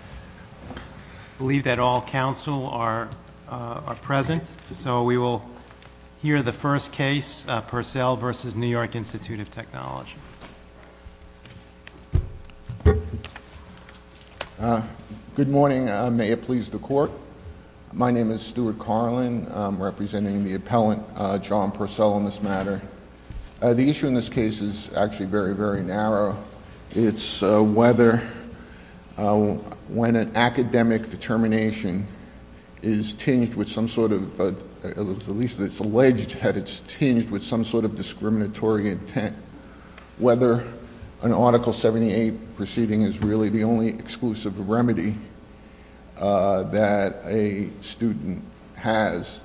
I believe that all counsel are present. So we will hear the first case, Purcell v. New York Institute of Technology. Good morning. May it please the Court. My name is Stuart Carlin. I'm representing the appellant, John Purcell, on this matter. The issue in this case is actually very, very narrow. It's whether, when an academic determination is tinged with some sort of, at least it's alleged that it's tinged with some sort of discriminatory intent, whether an Article 78 proceeding is really the only exclusive remedy that a student has.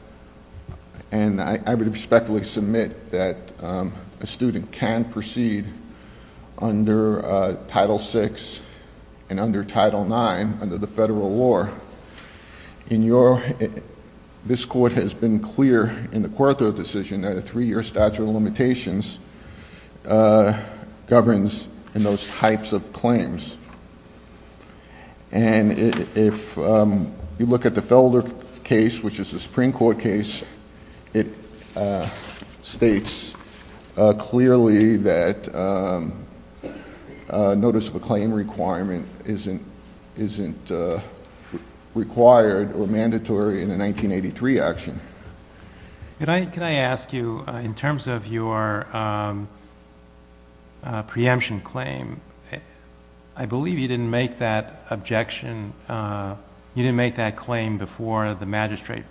And I would respectfully submit that a student can proceed under Title VI and under Title IX under the federal law. In your, this Court has been clear in the Cuarto decision that a three-year statute of limitations And if you look at the Felder case, which is a Supreme Court case, it states clearly that a notice of a claim requirement isn't required or mandatory in a 1983 action. Can I ask you, in terms of your preemption claim, I believe you didn't make that objection, you didn't make that claim before the magistrate.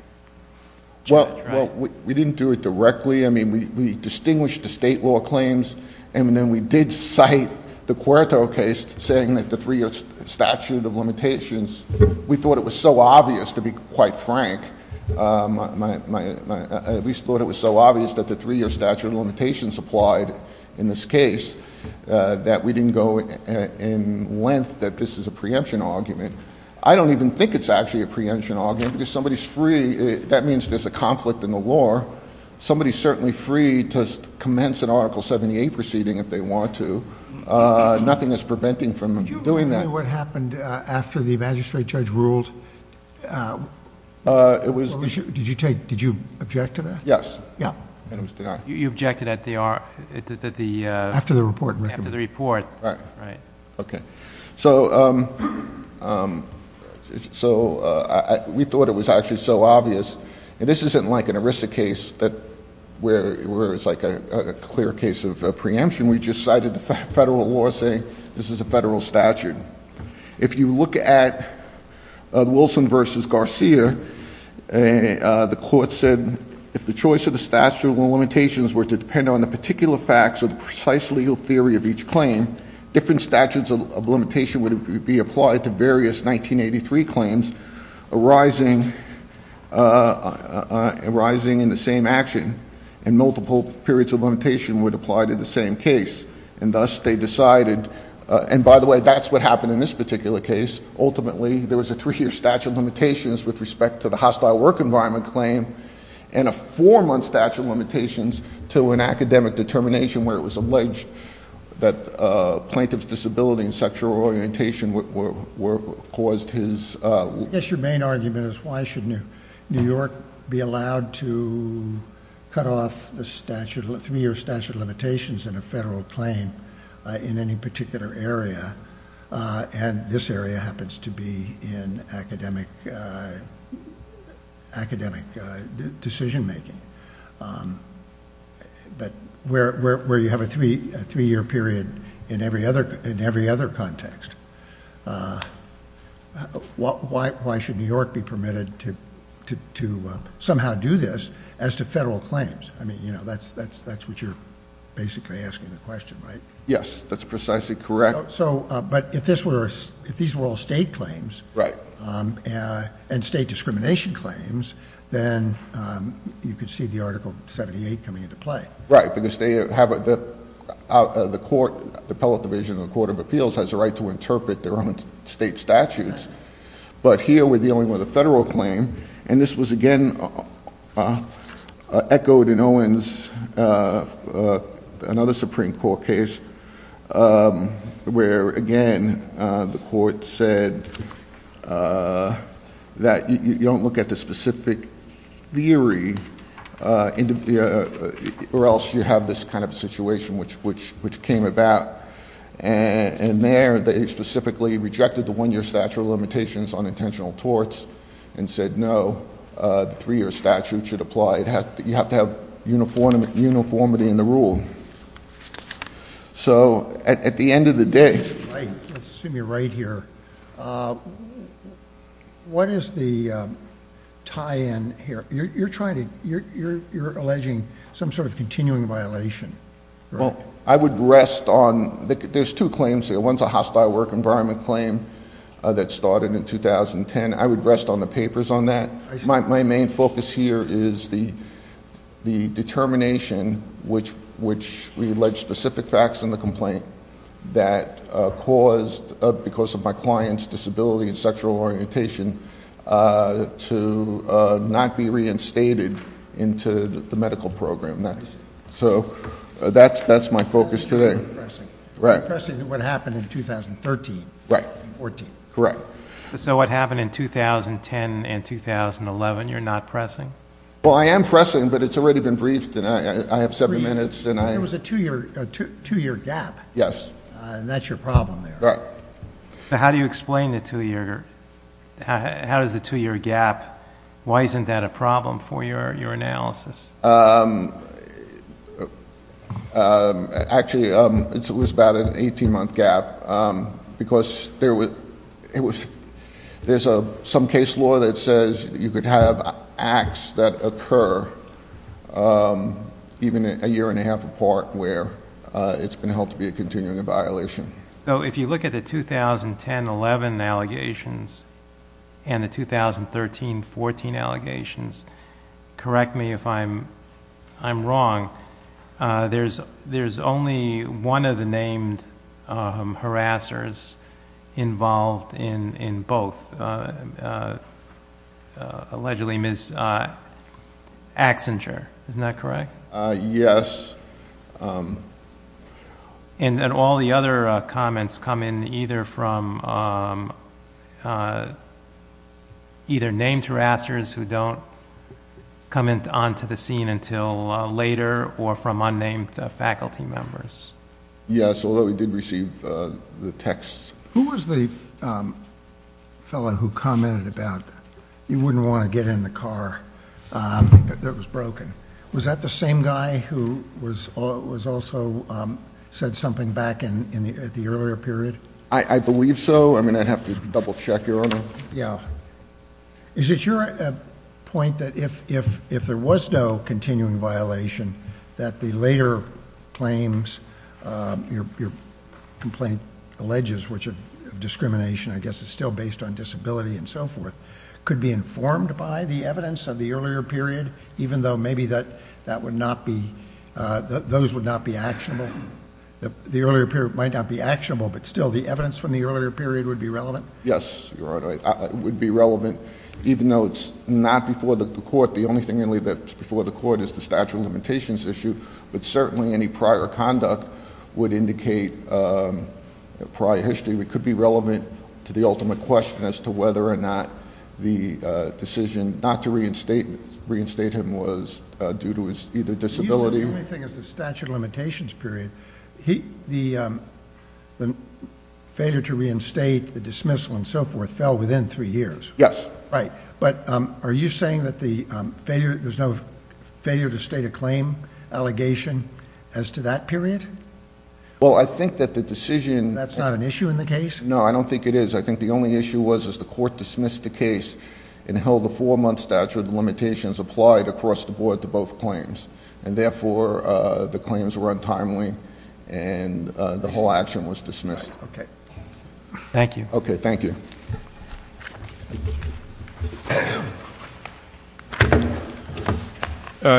Well, we didn't do it directly. I mean, we distinguished the state law claims and then we did cite the Cuarto case saying that the three-year statute of limitations, we thought it was so obvious, to be quite frank, we thought it was so obvious that the three-year statute of limitations applied in this case that we didn't go in length that this is a preemption argument. I don't even think it's actually a preemption argument. If somebody's free, that means there's a conflict in the law. Somebody's certainly free to commence an Article 78 proceeding if they want to. Nothing is preventing them from doing that. Can you tell me what happened after the magistrate judge ruled? Did you object to that? Yes. You objected at the— After the report. After the report. Right. Okay. So we thought it was actually so obvious. And this isn't like an Arista case where it's like a clear case of preemption. We just cited the federal law saying this is a federal statute. If you look at Wilson v. Garcia, the court said, if the choice of the statute of limitations were to depend on the particular facts or the precise legal theory of each claim, different statutes of limitation would be applied to various 1983 claims arising in the same action, and multiple periods of limitation would apply to the same case. And thus they decided—and by the way, that's what happened in this particular case. Ultimately, there was a three-year statute of limitations with respect to the hostile work environment claim and a four-month statute of limitations to an academic determination where it was alleged that plaintiff's disability and sexual orientation caused his— I guess your main argument is why should New York be allowed to cut off the statute, three-year statute of limitations in a federal claim in any particular area, and this area happens to be in academic decision-making, where you have a three-year period in every other context. Why should New York be permitted to somehow do this as to federal claims? I mean, that's what you're basically asking the question, right? Yes, that's precisely correct. But if these were all state claims and state discrimination claims, then you could see the Article 78 coming into play. Right, because they have—the court, the public division of the Court of Appeals, has a right to interpret their own state statutes. But here we're dealing with a federal claim, and this was again echoed in Owens, another Supreme Court case where, again, the court said that you don't look at the specific theory or else you have this kind of situation which came about. And there they specifically rejected the one-year statute of limitations on intentional torts and said, no, the three-year statute should apply. You have to have uniformity in the rule. So at the end of the day— I assume you're right here. What is the tie-in here? You're trying to—you're alleging some sort of continuing violation. Well, I would rest on—there's two claims here. One's a hostile work environment claim that started in 2010. I would rest on the papers on that. My main focus here is the determination which we allege specific facts in the complaint that caused, because of my client's disability and sexual orientation, to not be reinstated into the medical program. So that's my focus today. You're not pressing what happened in 2013 and 2014. Correct. So what happened in 2010 and 2011 you're not pressing? Well, I am pressing, but it's already been briefed, and I have seven minutes. There was a two-year gap. Yes. And that's your problem there. Correct. So how do you explain the two-year gap? Why isn't that a problem for your analysis? Actually, it was about an 18-month gap because there's some case law that says that you could have acts that occur even a year and a half apart where it's going to help to be a continuing violation. So if you look at the 2010-11 allegations and the 2013-14 allegations, correct me if I'm wrong, there's only one of the named harassers involved in both, allegedly Ms. Axinger. Isn't that correct? Yes. And then all the other comments come in either from either named harassers who don't comment onto the scene until later or from unnamed faculty members. Yes, although we did receive the texts. Who was the fellow who commented about he wouldn't want to get in the car, but it was broken? Was that the same guy who also said something back in the earlier period? I believe so. I mean, I'd have to double-check. Is it your point that if there was no continuing violation, that the later claims, your complaint alleges, which is discrimination, I guess it's still based on disability and so forth, could be informed by the evidence of the earlier period, even though maybe those would not be actionable? The earlier period might not be actionable, but still the evidence from the earlier period would be relevant? Yes, you're right. It would be relevant, even though it's not before the court. The only thing really that's before the court is the statute of limitations issue, but certainly any prior conduct would indicate prior history. It could be relevant to the ultimate question as to whether or not the decision not to reinstate him was due to his disability. The only thing is the statute of limitations period. The failure to reinstate, the dismissal, and so forth fell within three years. Yes. Right. But are you saying that there's no failure to state a claim allegation as to that period? Well, I think that the decision— That's not an issue in the case? No, I don't think it is. I think the only issue was that the court dismissed the case and held the four-month statute of limitations applied across the board to both claims, and therefore the claims were untimely and the whole action was dismissed. Okay. Thank you. Okay. Thank you.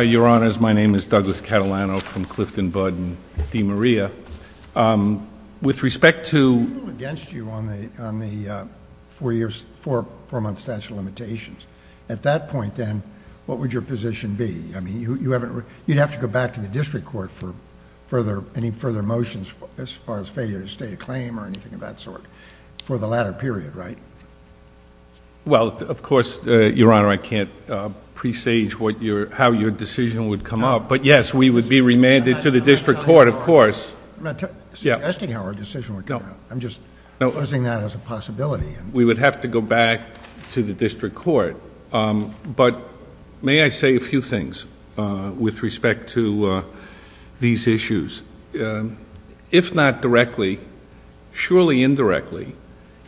Your Honors, my name is Douglas Catalano from Clifton Budd and DeMaria. With respect to— We rule against you on the four-month statute of limitations. At that point, then, what would your position be? I mean, you'd have to go back to the district court for any further motions as far as failure to state a claim or anything of that sort for the latter period, right? Well, of course, Your Honor, I can't presage how your decision would come up. But, yes, we would be remanded to the district court, of course. I'm not suggesting our decision would go. I'm just proposing that as a possibility. We would have to go back to the district court. But may I say a few things with respect to these issues? If not directly, surely indirectly,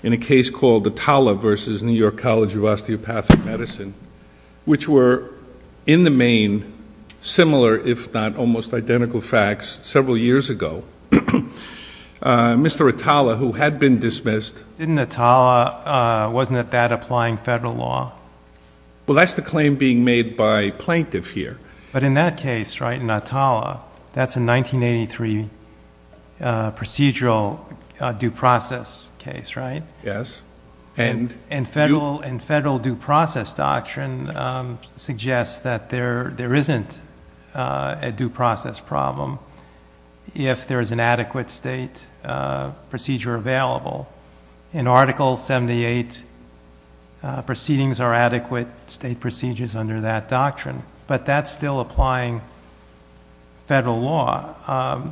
in a case called Atala v. New York College of Osteopathic Medicine, which were in the main similar, if not almost identical, facts several years ago. Mr. Atala, who had been dismissed— Well, that's the claim being made by plaintiff here. But in that case, right, in Atala, that's a 1983 procedural due process case, right? Yes. And federal due process doctrine suggests that there isn't a due process problem if there is an adequate state procedure available. In Article 78, proceedings are adequate state procedures under that doctrine. But that's still applying federal law.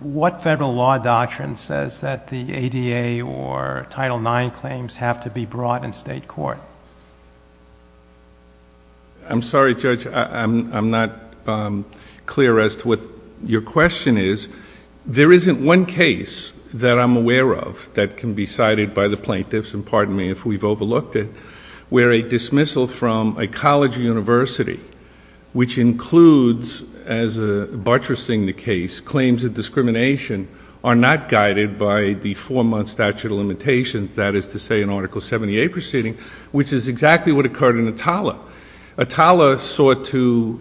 What federal law doctrine says that the ADA or Title IX claims have to be brought in state court? I'm sorry, Judge, I'm not clear as to what your question is. There isn't one case that I'm aware of that can be cited by the plaintiffs, and pardon me if we've overlooked it, where a dismissal from a college or university which includes, as a buttressing the case, claims of discrimination are not guided by the four-month statute of limitations, that is to say in Article 78 proceedings, which is exactly what occurred in Atala. Atala sought to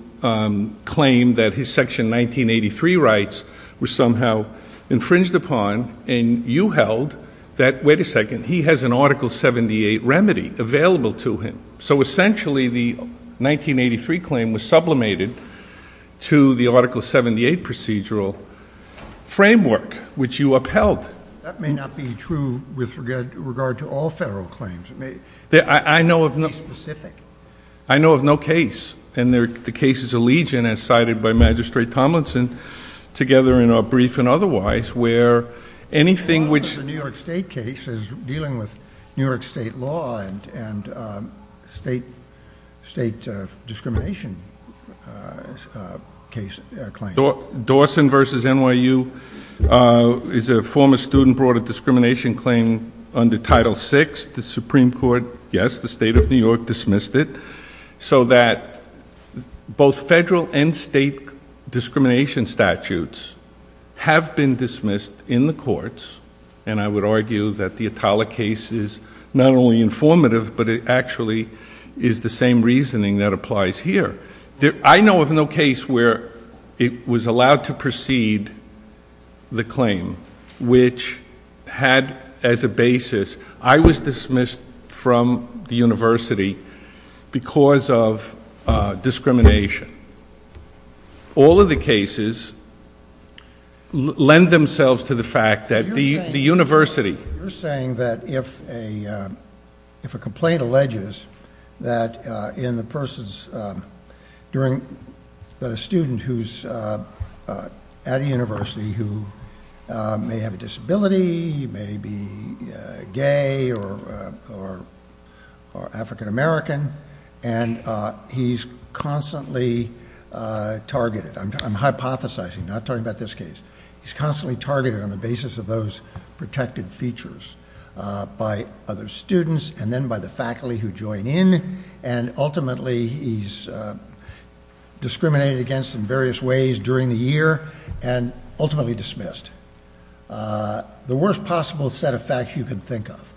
claim that his Section 1983 rights were somehow infringed upon, and you held that, wait a second, he has an Article 78 remedy available to him. So essentially the 1983 claim was sublimated to the Article 78 procedural framework, which you upheld. That may not be true with regard to all federal claims. I know of no case, and the case is Allegiant, as cited by Magistrate Tomlinson, together in our brief and otherwise, where anything which... The New York State case is dealing with New York State law and state discrimination claims. Dawson v. NYU is a former student, brought a discrimination claim under Title VI. The Supreme Court, yes, the State of New York dismissed it. So that both federal and state discrimination statutes have been dismissed in the courts, and I would argue that the Atala case is not only informative, but it actually is the same reasoning that applies here. I know of no case where it was allowed to proceed the claim, which had as a basis, I was dismissed from the university because of discrimination. All of the cases lend themselves to the fact that the university... During the student who's at a university who may have a disability, may be gay or African American, and he's constantly targeted. I'm hypothesizing, not talking about this case. He's constantly targeted on the basis of those protective features by other students, and then by the faculty who join in, and ultimately he's discriminated against in various ways during the year, and ultimately dismissed. The worst possible set of facts you can think of.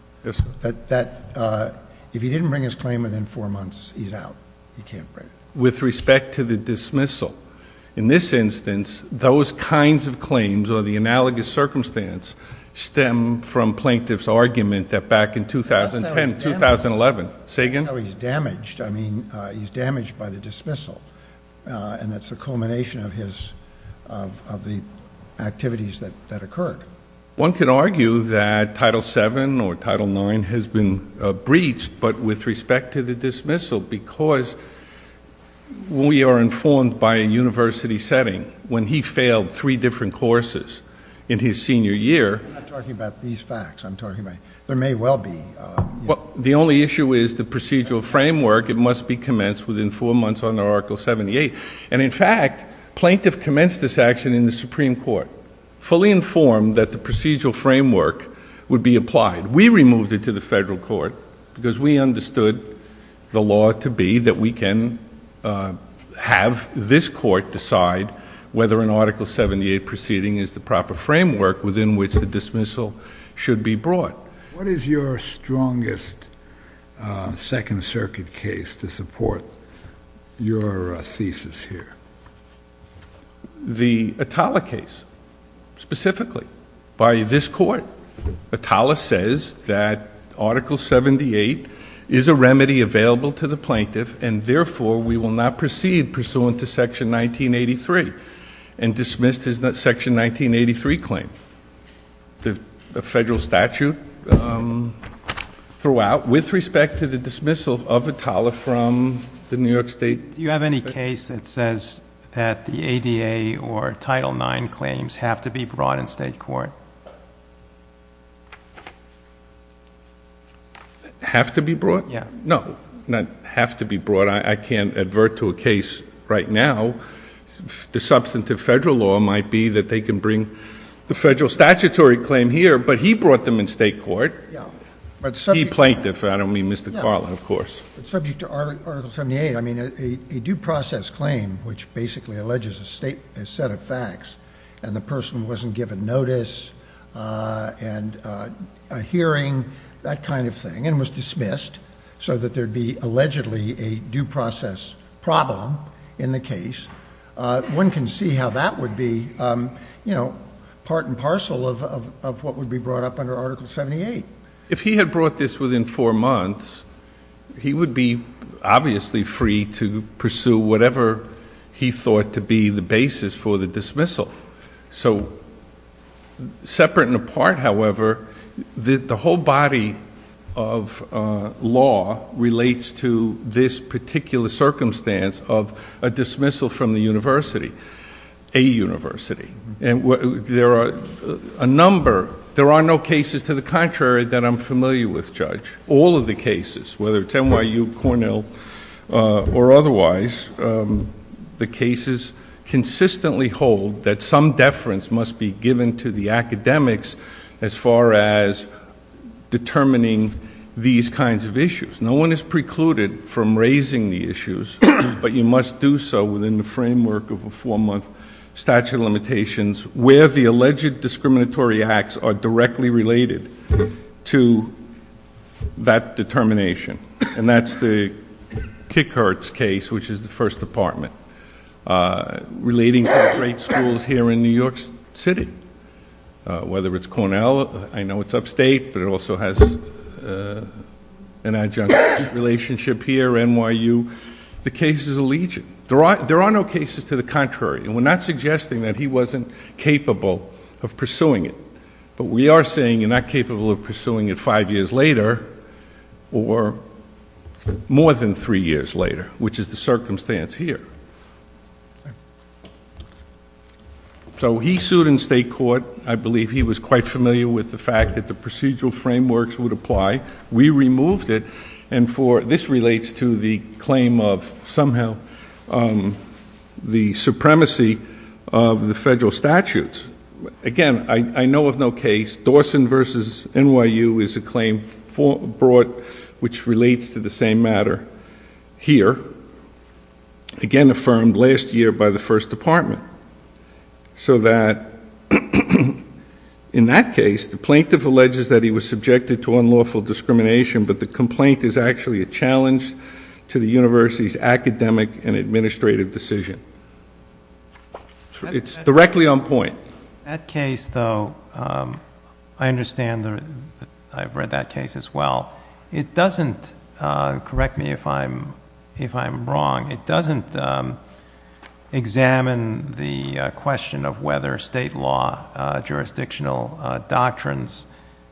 If he didn't bring his claim within four months, he's out. He can't bring it. With respect to the dismissal, in this instance, those kinds of claims or the analogous circumstance stem from Plaintiff's argument that back in 2010, 2011... Sagan? No, he's damaged. I mean, he's damaged by the dismissal, and that's the culmination of the activities that occurred. One could argue that Title VII or Title IX has been breached, but with respect to the dismissal, because we are informed by a university setting when he failed three different courses in his senior year... I'm not talking about these facts. I'm talking about there may well be... The only issue is the procedural framework. It must be commenced within four months under Article 78. And in fact, Plaintiff commenced this action in the Supreme Court, fully informed that the procedural framework would be applied. We removed it to the federal court because we understood the law to be that we can have this court decide whether an Article 78 proceeding is the proper framework within which the dismissal should be brought. What is your strongest Second Circuit case to support your thesis here? The Atala case, specifically, by this court. Atala says that Article 78 is a remedy available to the plaintiff, and therefore we will not proceed pursuant to Section 1983, and dismissed his Section 1983 claim. The federal statute threw out, with respect to the dismissal of Atala from the New York State... Do you have any case that says that the ADA or Title IX claims have to be brought in state court? Have to be brought? Yes. No, not have to be brought. I can't advert to a case right now. The substantive federal law might be that they can bring the federal statutory claim here, but he brought them in state court. He, Plaintiff. I don't mean Mr. Carla, of course. It's subject to Article 78. I mean, a due process claim, which basically alleges a set of facts, and the person wasn't given notice and a hearing, that kind of thing, and was dismissed so that there'd be allegedly a due process problem in the case. One can see how that would be, you know, part and parcel of what would be brought up under Article 78. If he had brought this within four months, he would be obviously free to pursue whatever he thought to be the basis for the dismissal. So, separate and apart, however, the whole body of law relates to this particular circumstance of a dismissal from the university, a university. There are a number. There are no cases to the contrary that I'm familiar with, Judge. All of the cases, whether it's NYU, Cornell, or otherwise, the cases consistently hold that some deference must be given to the academics as far as determining these kinds of issues. No one is precluded from raising the issues, but you must do so within the framework of a four-month statute of limitations where the alleged discriminatory acts are directly related to that determination, and that's the Kikertz case, which is the First Department, relating to the great schools here in New York City. Whether it's Cornell, I know it's upstate, but it also has an adjunct relationship here, NYU. The case is alleged. There are no cases to the contrary, and we're not suggesting that he wasn't capable of pursuing it, but we are saying you're not capable of pursuing it five years later or more than three years later, which is the circumstance here. So he sued in state court. I believe he was quite familiar with the fact that the procedural frameworks would apply. We removed it, and this relates to the claim of somehow the supremacy of the federal statutes. Again, I know of no case. Dawson v. NYU is a claim brought which relates to the same matter here, again affirmed last year by the First Department, so that in that case the plaintiff alleges that he was subjected to unlawful discrimination, but the complaint is actually a challenge to the university's academic and administrative decision. It's directly on point. That case, though, I understand. I've read that case as well. It doesn't, correct me if I'm wrong, it doesn't examine the question of whether state law jurisdictional doctrines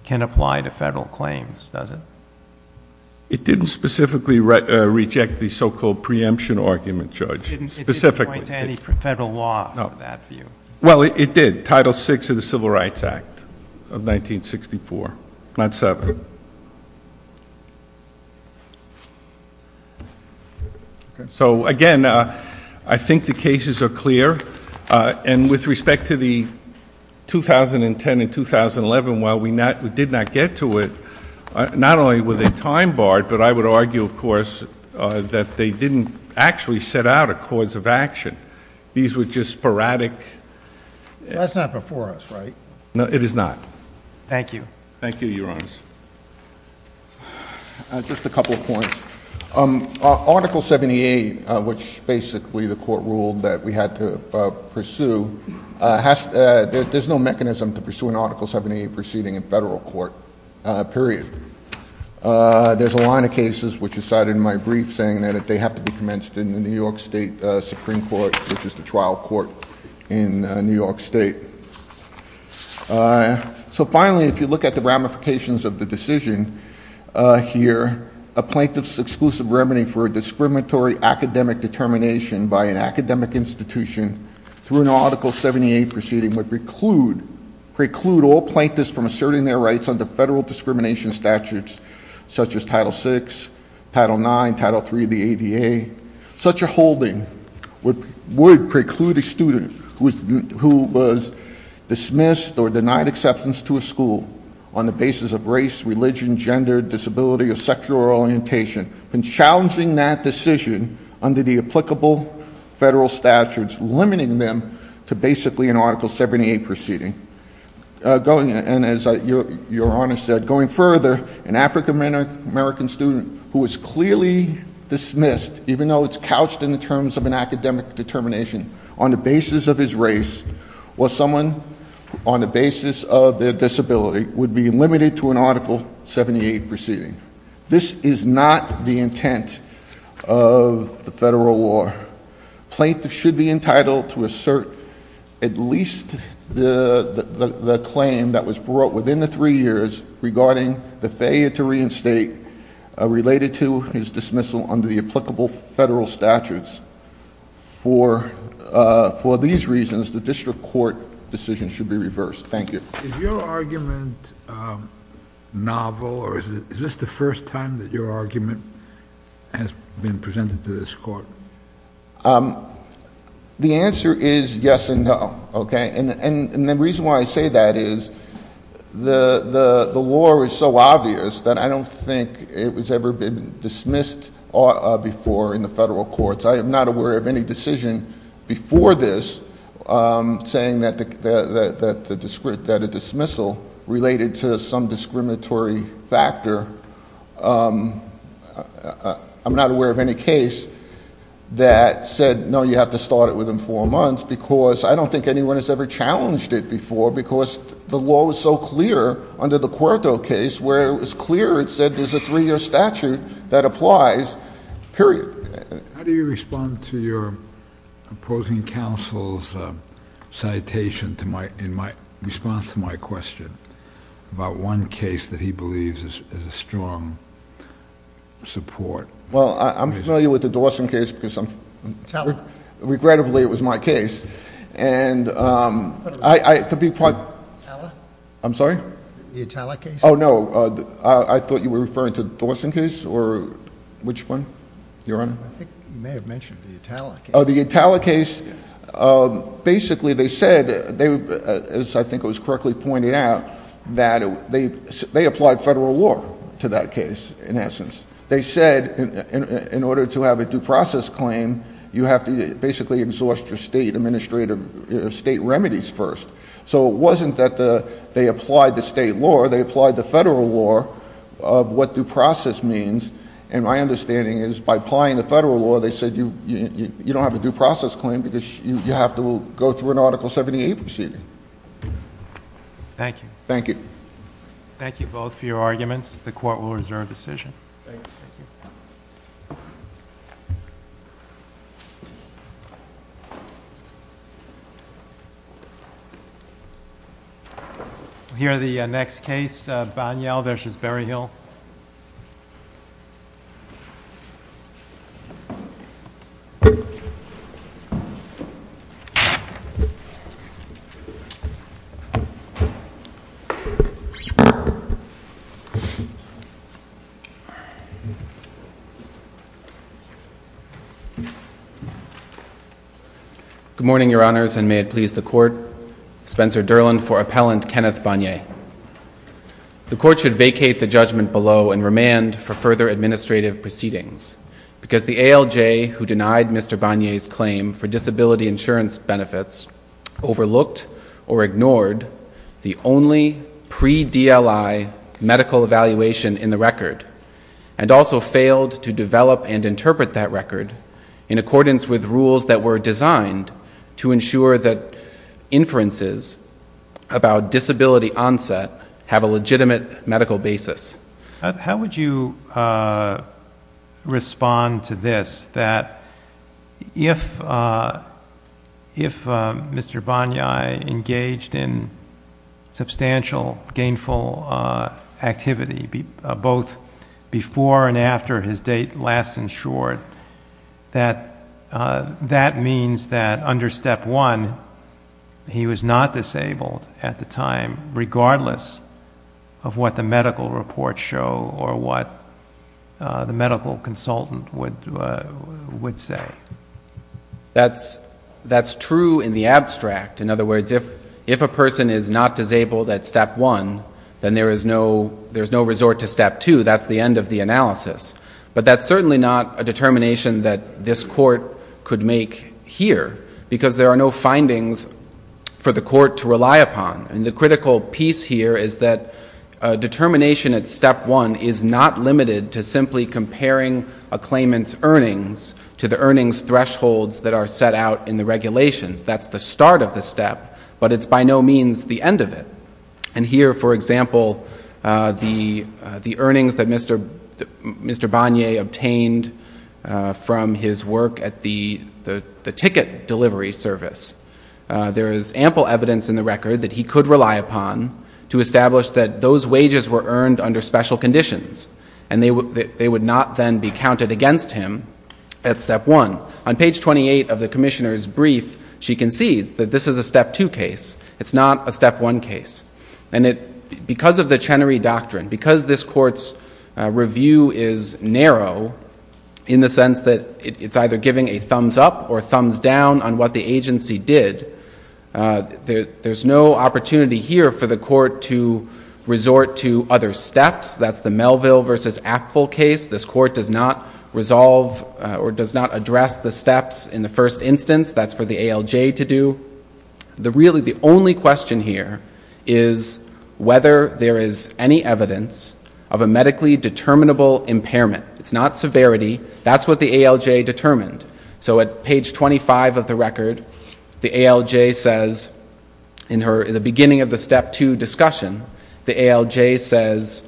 can apply to federal claims, does it? It didn't specifically reject the so-called preemption argument, Judge. It didn't point to any federal law of that view. Well, it did. Title VI of the Civil Rights Act of 1964. Not separate. So, again, I think the cases are clear, and with respect to the 2010 and 2011, while we did not get to it, not only were they time-barred, but I would argue, of course, that they didn't actually set out a cause of action. These were just sporadic. That's not before us, right? It is not. Thank you. Thank you, Your Honor. Just a couple of points. Article 78, which basically the court ruled that we had to pursue, there's no mechanism to pursue an Article 78 proceeding in federal court, period. There's a line of cases which are cited in my brief saying that they have to be commenced in the New York State Supreme Court, which is the trial court in New York State. So, finally, if you look at the ramifications of the decision here, a plaintiff's exclusive remedy for a discriminatory academic determination by an academic institution through an Article 78 proceeding would preclude all plaintiffs from asserting their rights under federal discrimination statutes such as Title VI, Title IX, Title III of the ADA. Such a holding would preclude a student who was dismissed or denied acceptance to a school on the basis of race, religion, gender, disability, or sexual orientation, and challenging that decision under the applicable federal statutes, limiting them to basically an Article 78 proceeding. And as Your Honor said, going further, an African-American student who was clearly dismissed, even though it's couched in the terms of an academic determination on the basis of his race, or someone on the basis of their disability, would be limited to an Article 78 proceeding. This is not the intent of the federal law. A plaintiff should be entitled to assert at least the claim that was brought within the three years regarding the failure to reinstate related to his dismissal under the applicable federal statutes. For these reasons, the district court decision should be reversed. Thank you. Is your argument novel, or is this the first time that your argument has been presented to this court? The answer is yes and no. And the reason why I say that is the law is so obvious that I don't think it has ever been dismissed before in the federal courts. I am not aware of any decision before this saying that a dismissal related to some discriminatory factor. I'm not aware of any case that said, no, you have to start it within four months, because I don't think anyone has ever challenged it before because the law was so clear under the Cuarto case where it was clear it said there's a three-year statute that applies, period. How do you respond to your opposing counsel's citation in response to my question about one case that he believes is a strong support? Well, I'm familiar with the Dawson case. Regrettably, it was my case. The Itala case? I'm sorry? The Itala case? Oh, no. I thought you were referring to the Dawson case, or which one? Your honor? I think you may have mentioned the Itala case. Oh, the Itala case. Basically, they said, as I think was correctly pointed out, that they applied federal law to that case, in essence. They said, in order to have a due process claim, you have to basically exhaust your state remedies first. So it wasn't that they applied the state law. They applied the federal law of what due process means. And my understanding is, by applying the federal law, they said you don't have a due process claim because you have to go through an Article 78 proceeding. Thank you. Thank you. Thank you both for your arguments. The Court will reserve decision. Thank you. We'll hear the next case, Boniel versus Berryhill. Good morning, Your Honors, and may it please the Court, Spencer Durland for Appellant Kenneth Bonier. The Court should vacate the judgment below and remand for further administrative proceedings, because the ALJ, who denied Mr. Bonier's claim for disability insurance benefits, overlooked or ignored the only pre-DLI medical evaluation in the record, and also failed to develop and interpret that record in accordance with rules that were designed to ensure that inferences about disability onset have a legitimate medical basis. How would you respond to this, that if Mr. Bonier engaged in substantial gainful activity, both before and after his date last insured, that that means that under Step 1, he was not disabled at the time, regardless of what the medical reports show or what the medical consultant would say? That's true in the abstract. In other words, if a person is not disabled at Step 1, then there is no resort to Step 2. That's the end of the analysis. But that's certainly not a determination that this Court could make here, because there are no findings for the Court to rely upon. And the critical piece here is that determination at Step 1 is not limited to simply comparing a claimant's earnings to the earnings thresholds that are set out in the regulations. That's the start of the step, but it's by no means the end of it. And here, for example, the earnings that Mr. Bonier obtained from his work at the ticket delivery service, there is ample evidence in the record that he could rely upon to establish that those wages were earned under special conditions, and they would not then be counted against him at Step 1. On page 28 of the Commissioner's brief, she concedes that this is a Step 2 case. It's not a Step 1 case. And because of the Chenery Doctrine, because this Court's review is narrow in the sense that it's either giving a thumbs-up or a thumbs-down on what the agency did, there's no opportunity here for the Court to resort to other steps. That's the Melville v. Actful case. This Court does not resolve or does not address the steps in the first instance. That's for the ALJ to do. Really, the only question here is whether there is any evidence of a medically determinable impairment. It's not severity. That's what the ALJ determined. So at page 25 of the record, the ALJ says in the beginning of the Step 2 discussion, the ALJ says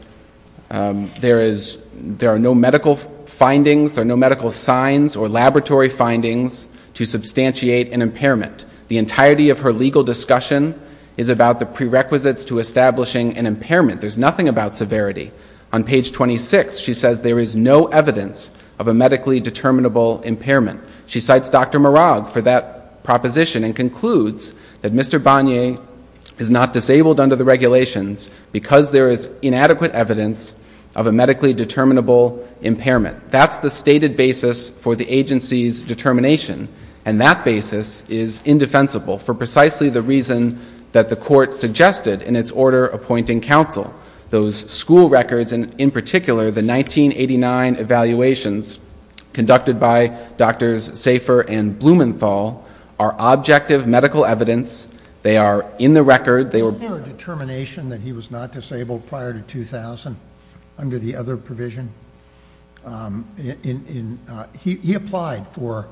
there are no medical findings or no medical signs or laboratory findings to substantiate an impairment. The entirety of her legal discussion is about the prerequisites to establishing an impairment. There's nothing about severity. On page 26, she says there is no evidence of a medically determinable impairment. She cites Dr. Marag for that proposition and concludes that Mr. Bonnier is not disabled under the regulations because there is inadequate evidence of a medically determinable impairment. That's the stated basis for the agency's determination, and that basis is indefensible for precisely the reason that the Court suggested in its order appointing counsel. Those school records and, in particular, the 1989 evaluations conducted by Drs. Safer and Blumenthal are objective medical evidence. They are in the record. Did he have a determination that he was not disabled prior to 2000 under the other provision? He applied for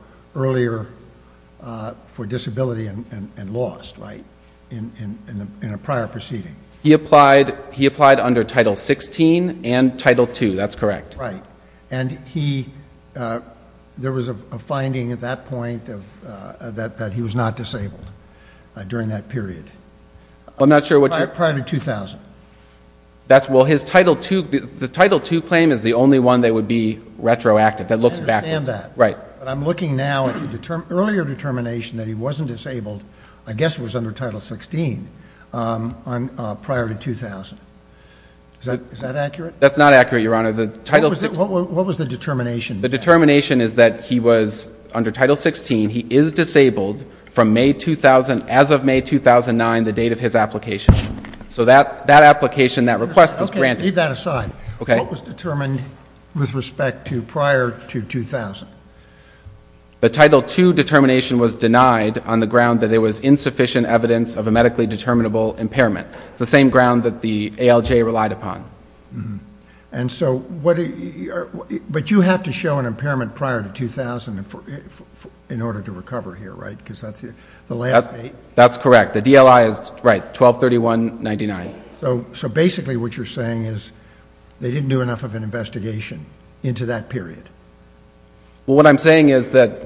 disability and lost, right, in a prior proceeding. He applied under Title 16 and Title 2. That's correct. And there was a finding at that point that he was not disabled during that period. Prior to 2000. The Title 2 claim is the only one that would be retroactive. But I'm looking now at the earlier determination that he wasn't disabled, I guess it was under Title 16, prior to 2000. Is that accurate? That's not accurate, Your Honor. What was the determination? The determination is that he was, under Title 16, he is disabled from May 2000, as of May 2009, the date of his application. So that application, that request was granted. Okay. Leave that aside. Okay. What was determined with respect to prior to 2000? The Title 2 determination was denied on the ground that there was insufficient evidence of a medically determinable impairment, the same ground that the ALJ relied upon. But you have to show an impairment prior to 2000 in order to recover here, right? That's correct. The DLI is, right, 12-31-99. So basically what you're saying is they didn't do enough of an investigation into that period? Well, what I'm saying is that...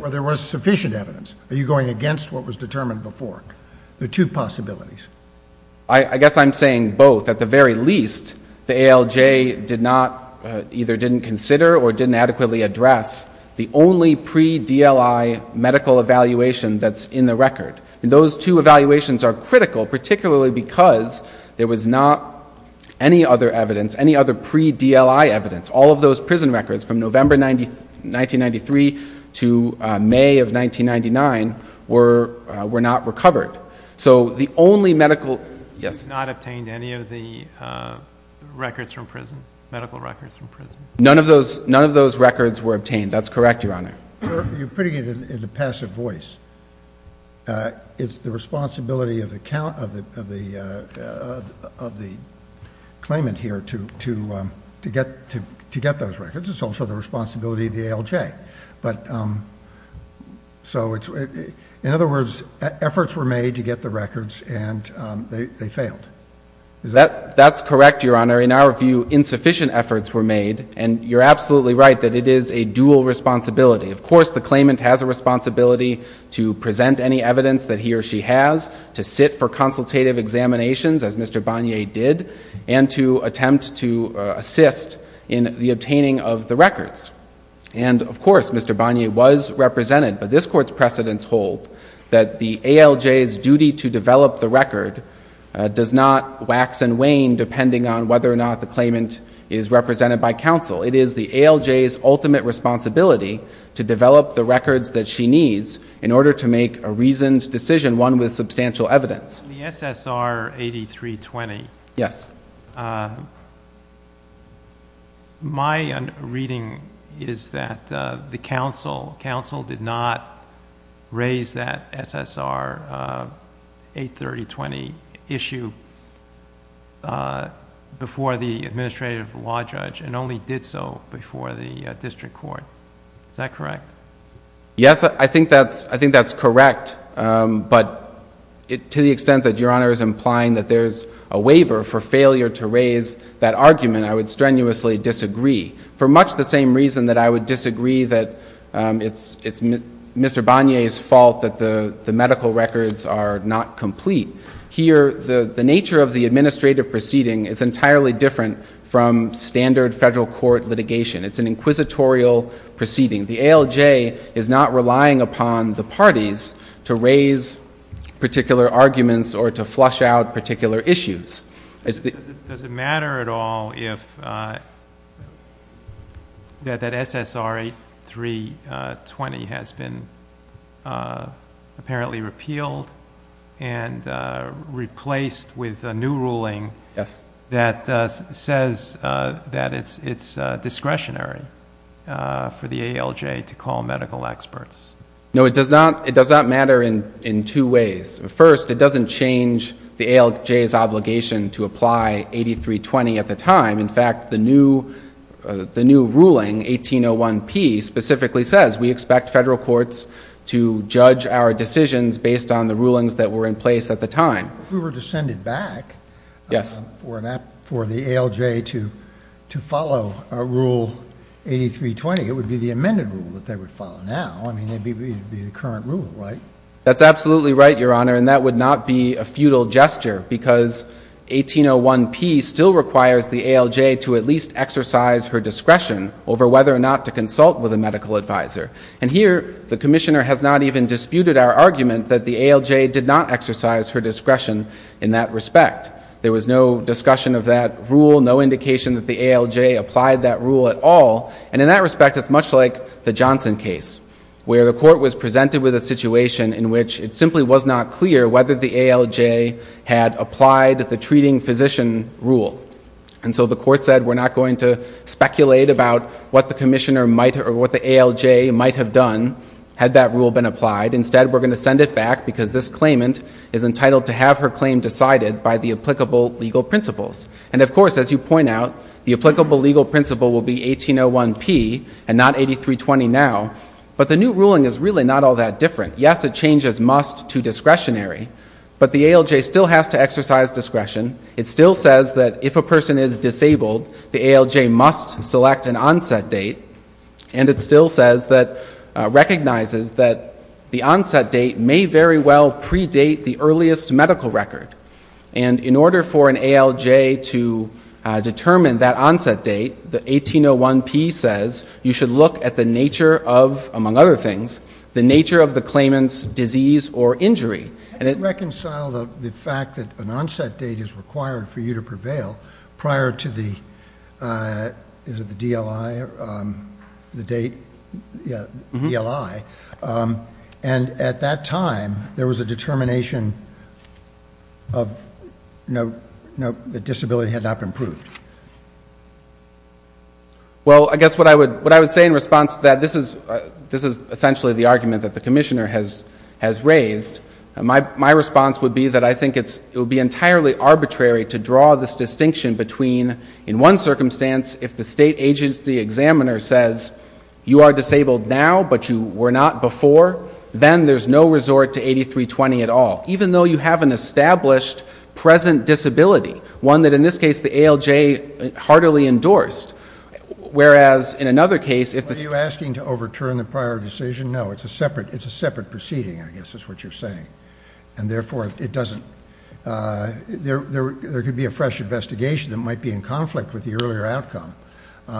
I guess I'm saying both. At the very least, the ALJ did not, either didn't consider or didn't adequately address the only pre-DLI medical evaluation that's in the record. And those two evaluations are critical, particularly because there was not any other evidence, any other pre-DLI evidence. All of those prison records from November 1993 to May of 1999 were not recovered. So the only medical... You did not obtain any of the records from prison, medical records from prison? None of those records were obtained. That's correct, Your Honor. You're putting it in a passive voice. It's the responsibility of the claimant here to get those records. It's also the responsibility of the ALJ. In other words, efforts were made to get the records, and they failed. That's correct, Your Honor. In our view, insufficient efforts were made. And you're absolutely right that it is a dual responsibility. Of course, the claimant has a responsibility to present any evidence that he or she has, to sit for consultative examinations, as Mr. Bonnier did, and to attempt to assist in the obtaining of the records. And, of course, Mr. Bonnier was represented, but this Court's precedent told that the ALJ's duty to develop the record does not wax and wane, depending on whether or not the claimant is represented by counsel. It is the ALJ's ultimate responsibility to develop the records that she needs in order to make a reasoned decision, one with substantial evidence. In the SSR 8320, my reading is that the counsel did not raise that SSR 83020 issue before the administrative law judge, and only did so before the district court. Is that correct? Yes, I think that's correct. But to the extent that Your Honor is implying that there's a waiver for failure to raise that argument, I would strenuously disagree, for much the same reason that I would disagree that it's Mr. Bonnier's fault that the medical records are not complete. Here, the nature of the administrative proceeding is entirely different from standard federal court litigation. It's an inquisitorial proceeding. The ALJ is not relying upon the parties to raise particular arguments or to flush out particular issues. Does it matter at all if that SSR 8320 has been apparently repealed and replaced with a new ruling that says that it's discretionary for the ALJ to call medical experts? No, it does not matter in two ways. First, it doesn't change the ALJ's obligation to apply 8320 at the time. In fact, the new ruling, 1801P, specifically says we expect federal courts to judge our decisions based on the rulings that were in place at the time. If we were to send it back for the ALJ to follow Rule 8320, it would be the amended rule that they would follow now. I mean, it would be the current rule, right? That's absolutely right, Your Honor, and that would not be a futile gesture because 1801P still requires the ALJ to at least exercise her discretion over whether or not to consult with a medical advisor. And here, the Commissioner has not even disputed our argument that the ALJ did not exercise her discretion in that respect. There was no discussion of that rule, no indication that the ALJ applied that rule at all. And in that respect, it's much like the Johnson case, where a court was presented with a situation in which it simply was not clear whether the ALJ had applied the treating physician rule. And so the court said we're not going to speculate about what the ALJ might have done had that rule been applied. Instead, we're going to send it back because this claimant is entitled to have her claim decided by the applicable legal principles. And of course, as you point out, the applicable legal principle will be 1801P and not 8320 now, but the new ruling is really not all that different. Yes, it changes must to discretionary, but the ALJ still has to exercise discretion. It still says that if a person is disabled, the ALJ must select an onset date, and it still recognizes that the onset date may very well predate the earliest medical record. And in order for an ALJ to determine that onset date, the 1801P says you should look at the nature of, among other things, the nature of the claimant's disease or injury. And it reconciled the fact that an onset date is required for you to prevail prior to the DLI. And at that time, there was a determination that disability had not been proved. Well, I guess what I would say in response to that, this is essentially the argument that the Commissioner has raised. My response would be that I think it would be entirely arbitrary to draw this distinction between, in one circumstance, if the state agency examiner says you are disabled now but you were not before, then there's no resort to 8320 at all, even though you have an established present disability, one that, in this case, the ALJ heartily endorsed. Whereas, in another case, if the- Are you asking to overturn the prior decision? No, it's a separate proceeding, I guess is what you're saying. And therefore, there could be a fresh investigation that might be in conflict with the earlier outcome,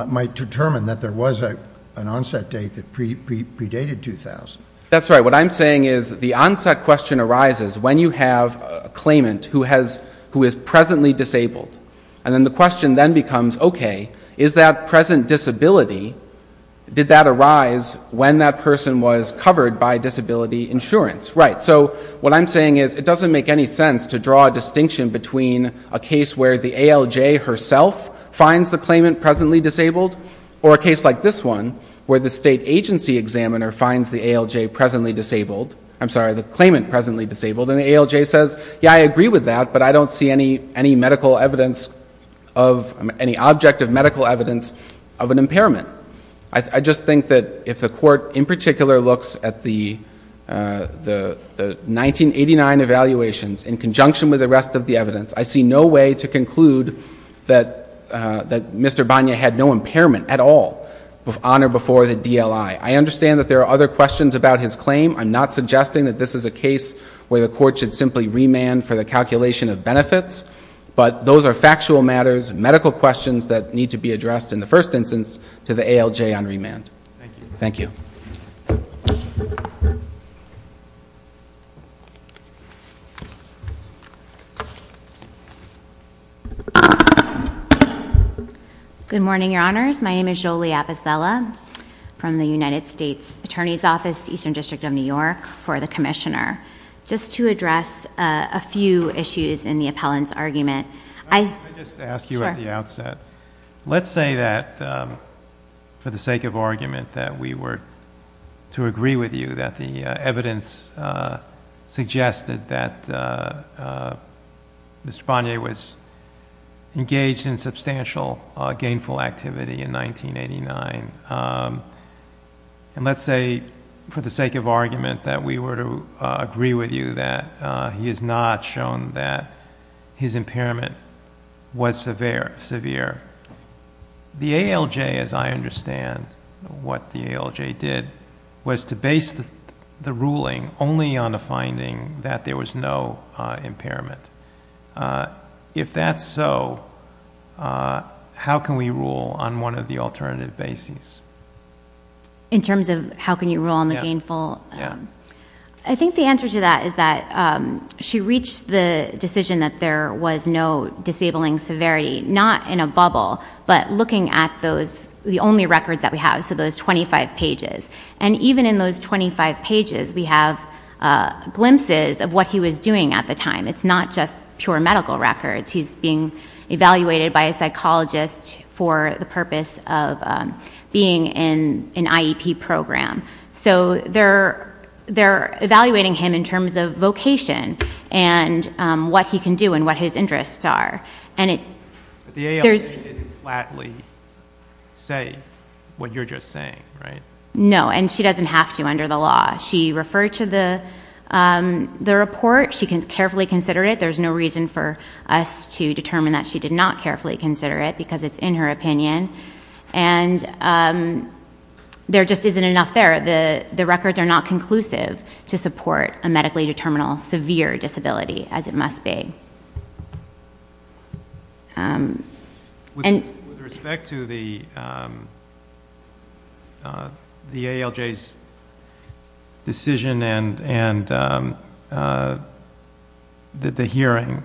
might determine that there was an onset date that predated 2000. That's right. Now, what I'm saying is the onset question arises when you have a claimant who is presently disabled. And then the question then becomes, okay, is that present disability, did that arise when that person was covered by disability insurance? Right. So what I'm saying is it doesn't make any sense to draw a distinction between a case where the ALJ herself finds the claimant presently disabled or a case like this one, where the state agency examiner finds the ALJ presently disabled. I'm sorry, the claimant presently disabled. And the ALJ says, yeah, I agree with that, but I don't see any medical evidence of, any object of medical evidence of an impairment. I just think that if the Court in particular looks at the 1989 evaluations in conjunction with the rest of the evidence, I see no way to conclude that Mr. Bonia had no impairment at all on or before the DLI. I understand that there are other questions about his claim. I'm not suggesting that this is a case where the Court should simply remand for the calculation of benefits. But those are factual matters, medical questions that need to be addressed in the first instance to the ALJ on remand. Thank you. Good morning, Your Honors. My name is Jolie Apicella from the United States Attorney's Office, Eastern District of New York, for the Commissioner. Just to address a few issues in the appellant's argument. Can I just ask you at the outset, let's say that for the sake of argument that we were to agree with you that the evidence suggested that Mr. Bonia was engaged in substantial gainful activity in 1989. And let's say for the sake of argument that we were to agree with you that he has not shown that his impairment was severe. The ALJ, as I understand what the ALJ did, was to base the ruling only on the finding that there was no impairment. If that's so, how can we rule on one of the alternative bases? In terms of how can you rule on the gainful? I think the answer to that is that she reached the decision that there was no disabling severity, not in a bubble, but looking at the only records that we have, so those 25 pages. And even in those 25 pages, we have glimpses of what he was doing at the time. It's not just pure medical records. He's being evaluated by a psychologist for the purpose of being in an IEP program. So they're evaluating him in terms of vocation and what he can do and what his interests are. But the ALJ didn't flatly say what you're just saying, right? No, and she doesn't have to under the law. She referred to the report. She can carefully consider it. There's no reason for us to determine that she did not carefully consider it because it's in her opinion. And there just isn't enough there. The records are not conclusive to support a medically determinable severe disability, as it must be. With respect to the ALJ's decision and the hearing,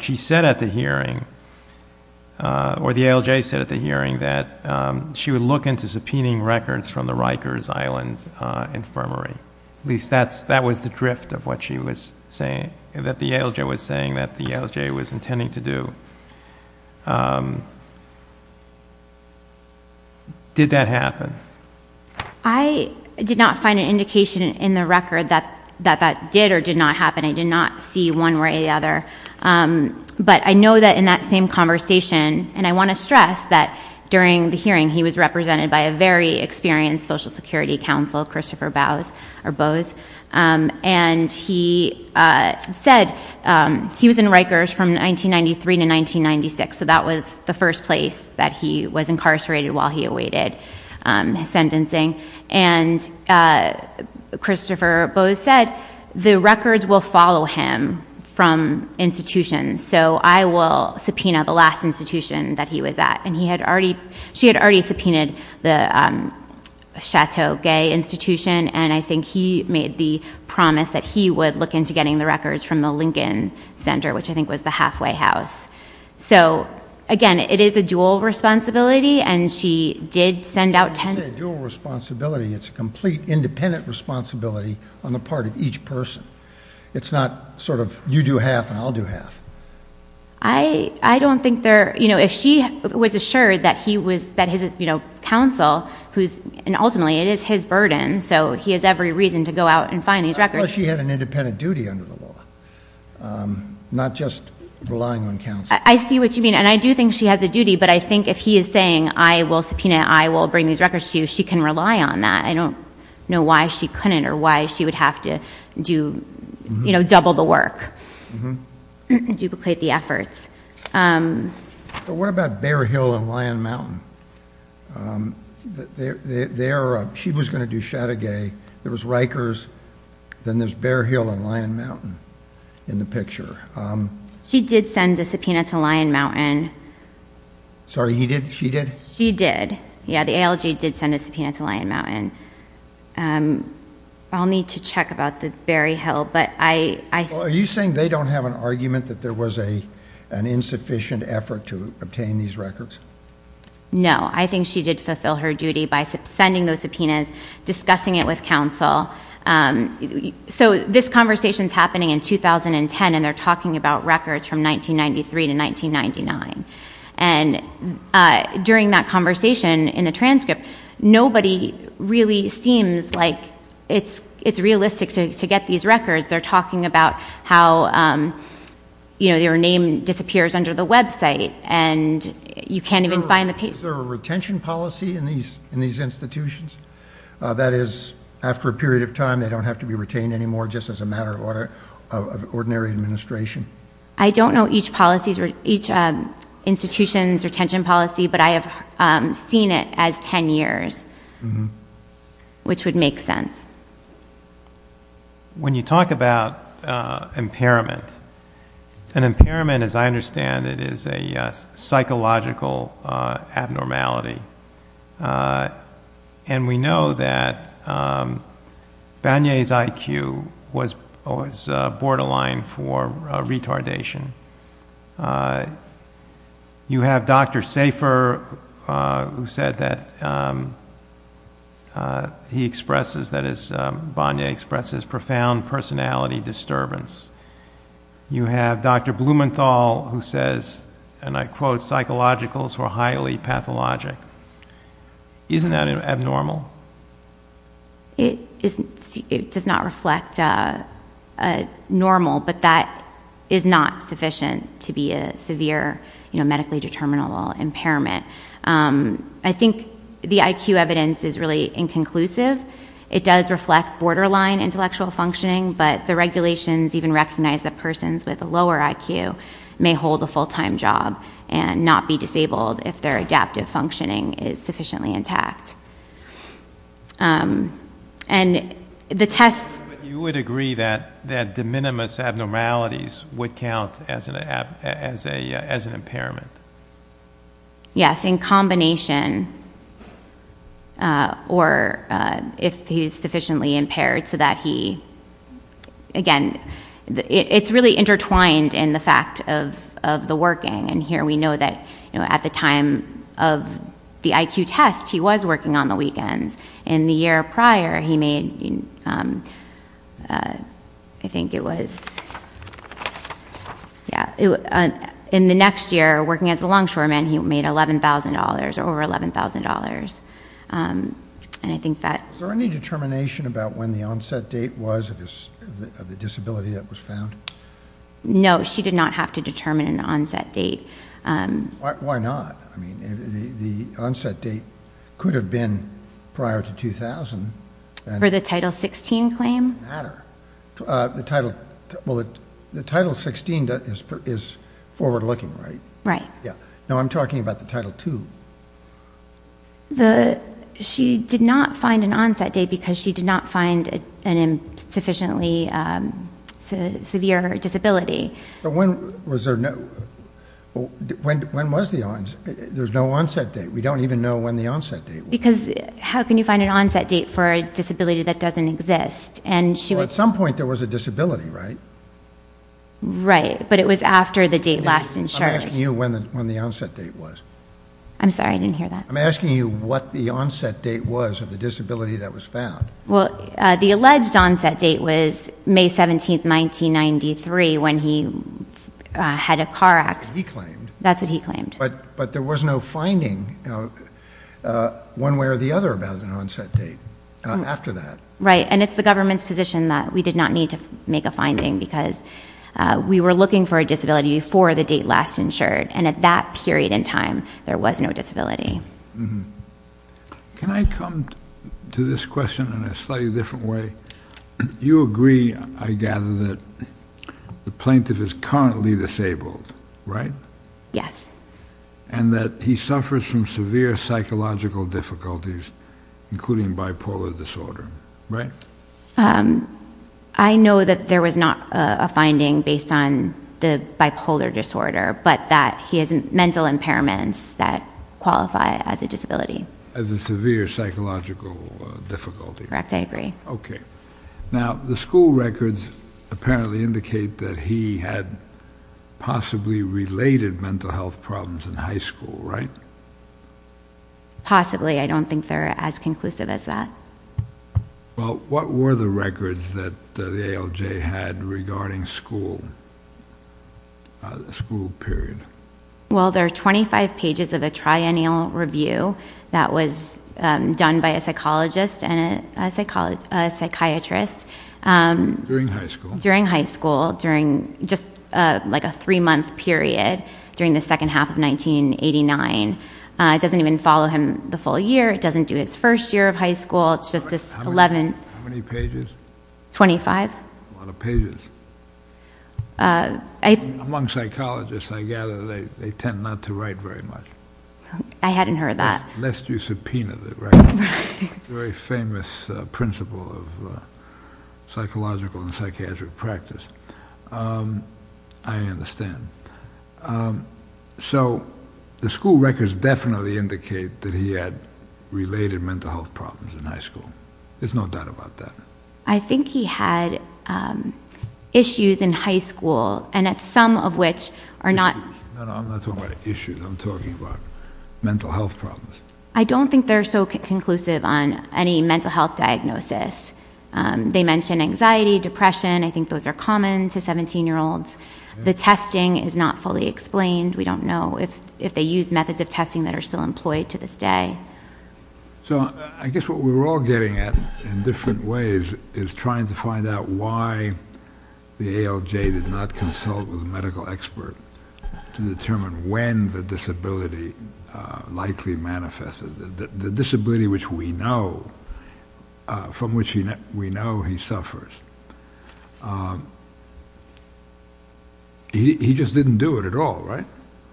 she said at the hearing, or the ALJ said at the hearing that she would look into subpoenaing records from the Rikers Island Infirmary. At least that was the drift of what she was saying, that the ALJ was saying that the ALJ was intending to do. Did that happen? I did not find an indication in the record that that did or did not happen. But I know that in that same conversation, and I want to stress that during the hearing, he was represented by a very experienced Social Security Counsel, Christopher Bowes. And he said he was in the Rikers from 1993 to 1996. So that was the first place that he was incarcerated while he awaited sentencing. And Christopher Bowes said the records will follow him from institutions. So I will subpoena the last institution that he was at. And she had already subpoenaed the Chateau Gay Institution. And I think he made the promise that he would look into getting the records from the Lincoln Center, which I think was the Hathaway House. So again, it is a dual responsibility. It's a dual responsibility. It's a complete independent responsibility on the part of each person. It's not sort of you do half and I'll do half. I don't think there, you know, if he was assured that he was, you know, counsel, and ultimately it is his burden, so he has every reason to go out and find these records. She had an independent duty under the law, not just relying on counsel. I see what you mean. And I do think she had the duty, but I think if he is saying I will subpoena, I will bring these records to you, she can rely on that. I don't know why she couldn't or why she would have to do, you know, double the work, duplicate the efforts. What about Bear Hill and Lion Mountain? She was going to do Chateau Gay. There was Rikers. Then there's Bear Hill and Lion Mountain in the picture. He did send the subpoena to Lion Mountain. Sorry, he did? She did? She did. Yeah, the ALG did send a subpoena to Lion Mountain. I'll need to check about this Bear Hill. Are you saying they don't have an argument that there was an insufficient effort to obtain these records? No. I think she did fulfill her duty by sending those subpoenas, discussing it with counsel. So this conversation is happening in 2010, and they're talking about records from 1993 to 1999. And during that conversation in the transcript, nobody really seems like it's realistic to get these records. They're talking about how, you know, your name disappears under the website, and you can't even find the paper. Is there a retention policy in these institutions? That is, after a period of time, they don't have to be retained anymore just as a matter of ordinary administration? I don't know each institution's retention policy, but I have seen it as 10 years, which would make sense. When you talk about impairment, an impairment, as I understand it, is a psychological abnormality. And we know that Bonnier's IQ was borderline for retardation. You have Dr. Safer, who said that he expresses, that is, Bonnier expresses profound personality disturbance. You have Dr. Blumenthal, who says, and I quote, psychologicals were highly pathologic. Isn't that abnormal? It does not reflect normal, but that is not sufficient to be a severe, you know, medically determinable impairment. I think the IQ evidence is really inconclusive. It does reflect borderline intellectual functioning, but the regulations even recognize that persons with a lower IQ may hold a full-time job and not be disabled if their adaptive functioning is sufficiently intact. You would agree that de minimis abnormalities would count as an impairment? Yes, in combination, or if he's sufficiently impaired so that he, again, it's really intertwined in the fact of the working. And here we know that, you know, at the time of the IQ test, he was working on the weekend. In the year prior, he made, I think it was, yeah, in the next year, working as a longshoreman, he made $11,000, over $11,000. Is there any determination about when the onset date was of the disability that was found? No, she did not have to determine an onset date. Why not? I mean, the onset date could have been prior to 2000. For the Title XVI claim? It doesn't matter. The Title XVI is forward-looking, right? Right. Now, I'm talking about the Title II. She did not find an onset date because she did not find a sufficiently severe disability. But when was there no onset date? We don't even know when the onset date was. Because how can you find an onset date for a disability that doesn't exist? Well, at some point there was a disability, right? Right, but it was after the date last in charge. I'm asking you when the onset date was. I'm sorry, I didn't hear that. I'm asking you what the onset date was of the disability that was found. Well, the alleged onset date was May 17, 1993 when he had a car accident. That's what he claimed. That's what he claimed. But there was no finding one way or the other about an onset date after that. Right, and it's the government's position that we did not need to make a finding because we were looking for a disability before the date last insured. And at that period in time, there was no disability. Can I come to this question in a slightly different way? You agree, I gather, that the plaintiff is currently disabled, right? Yes. And that he suffers from severe psychological difficulties, including bipolar disorder, right? I know that there was not a finding based on the bipolar disorder, but that he has mental impairments that qualify as a disability. As a severe psychological difficulty. Correct, I agree. Okay. Now, the school records apparently indicate that he had possibly related mental health problems in high school, right? Possibly, I don't think they're as conclusive as that. Well, what were the records that the ALJ had regarding school period? Well, there are 25 pages of a triennial review that was done by a psychologist and a psychiatrist. During high school. During high school, during just like a three-month period, during the second half of 1989. It doesn't even follow him the full year, it doesn't do his first year of high school, it's just this 11th. How many pages? 25. A lot of pages. Among psychologists, I gather, they tend not to write very much. I hadn't heard that. Unless you subpoenaed it, right? It's a very famous principle of psychological and psychiatric practice. I understand. So, the school records definitely indicate that he had related mental health problems in high school. There's no doubt about that. I think he had issues in high school, and some of which are not... No, I'm not talking about issues, I'm talking about mental health problems. I don't think they're so conclusive on any mental health diagnosis. They mention anxiety, depression, I think those are common to 17-year-olds. The testing is not fully explained. We don't know if they use methods of testing that are still employed to this day. So, I guess what we're all getting at, in different ways, is trying to find out why the ALJ did not consult with a medical expert to determine when the disability likely manifested. The disability which we know, from which we know he suffers. He just didn't do it at all, right?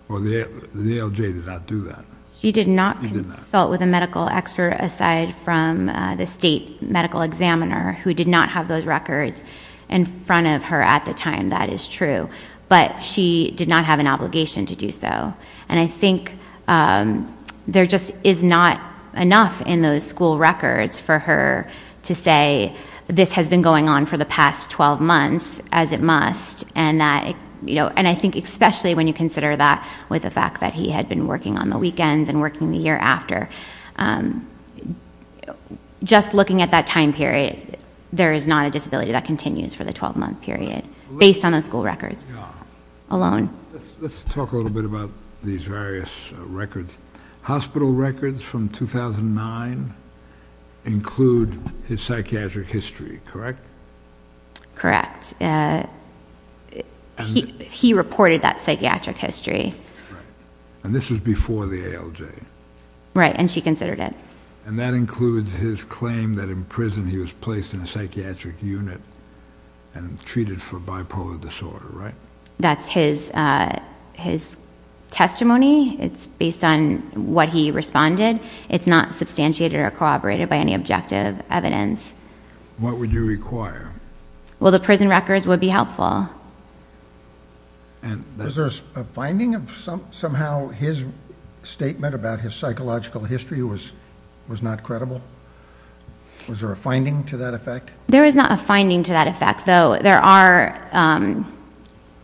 The ALJ did not do that. He did not consult with a medical expert, aside from the state medical examiner, who did not have those records in front of her at the time, that is true. But she did not have an obligation to do so. And I think there just is not enough in those school records for her to say, this has been going on for the past 12 months, as it must. And I think especially when you consider that with the fact that he had been working on the weekends, and working the year after. Just looking at that time period, there is not a disability that continues for the 12-month period, based on the school records alone. Let's talk a little bit about these various records. Hospital records from 2009 include his psychiatric history, correct? Correct. He reported that psychiatric history. And this was before the ALJ. Right, and she considered it. And that includes his claim that in prison he was placed in a psychiatric unit and treated for bipolar disorder, right? That's his testimony. It's based on what he responded. It's not substantiated or corroborated by any objective evidence. What would you require? Well, the prison records would be helpful. Is there a finding of somehow his statement about his psychological history was not credible? Was there a finding to that effect? There is not a finding to that effect. There are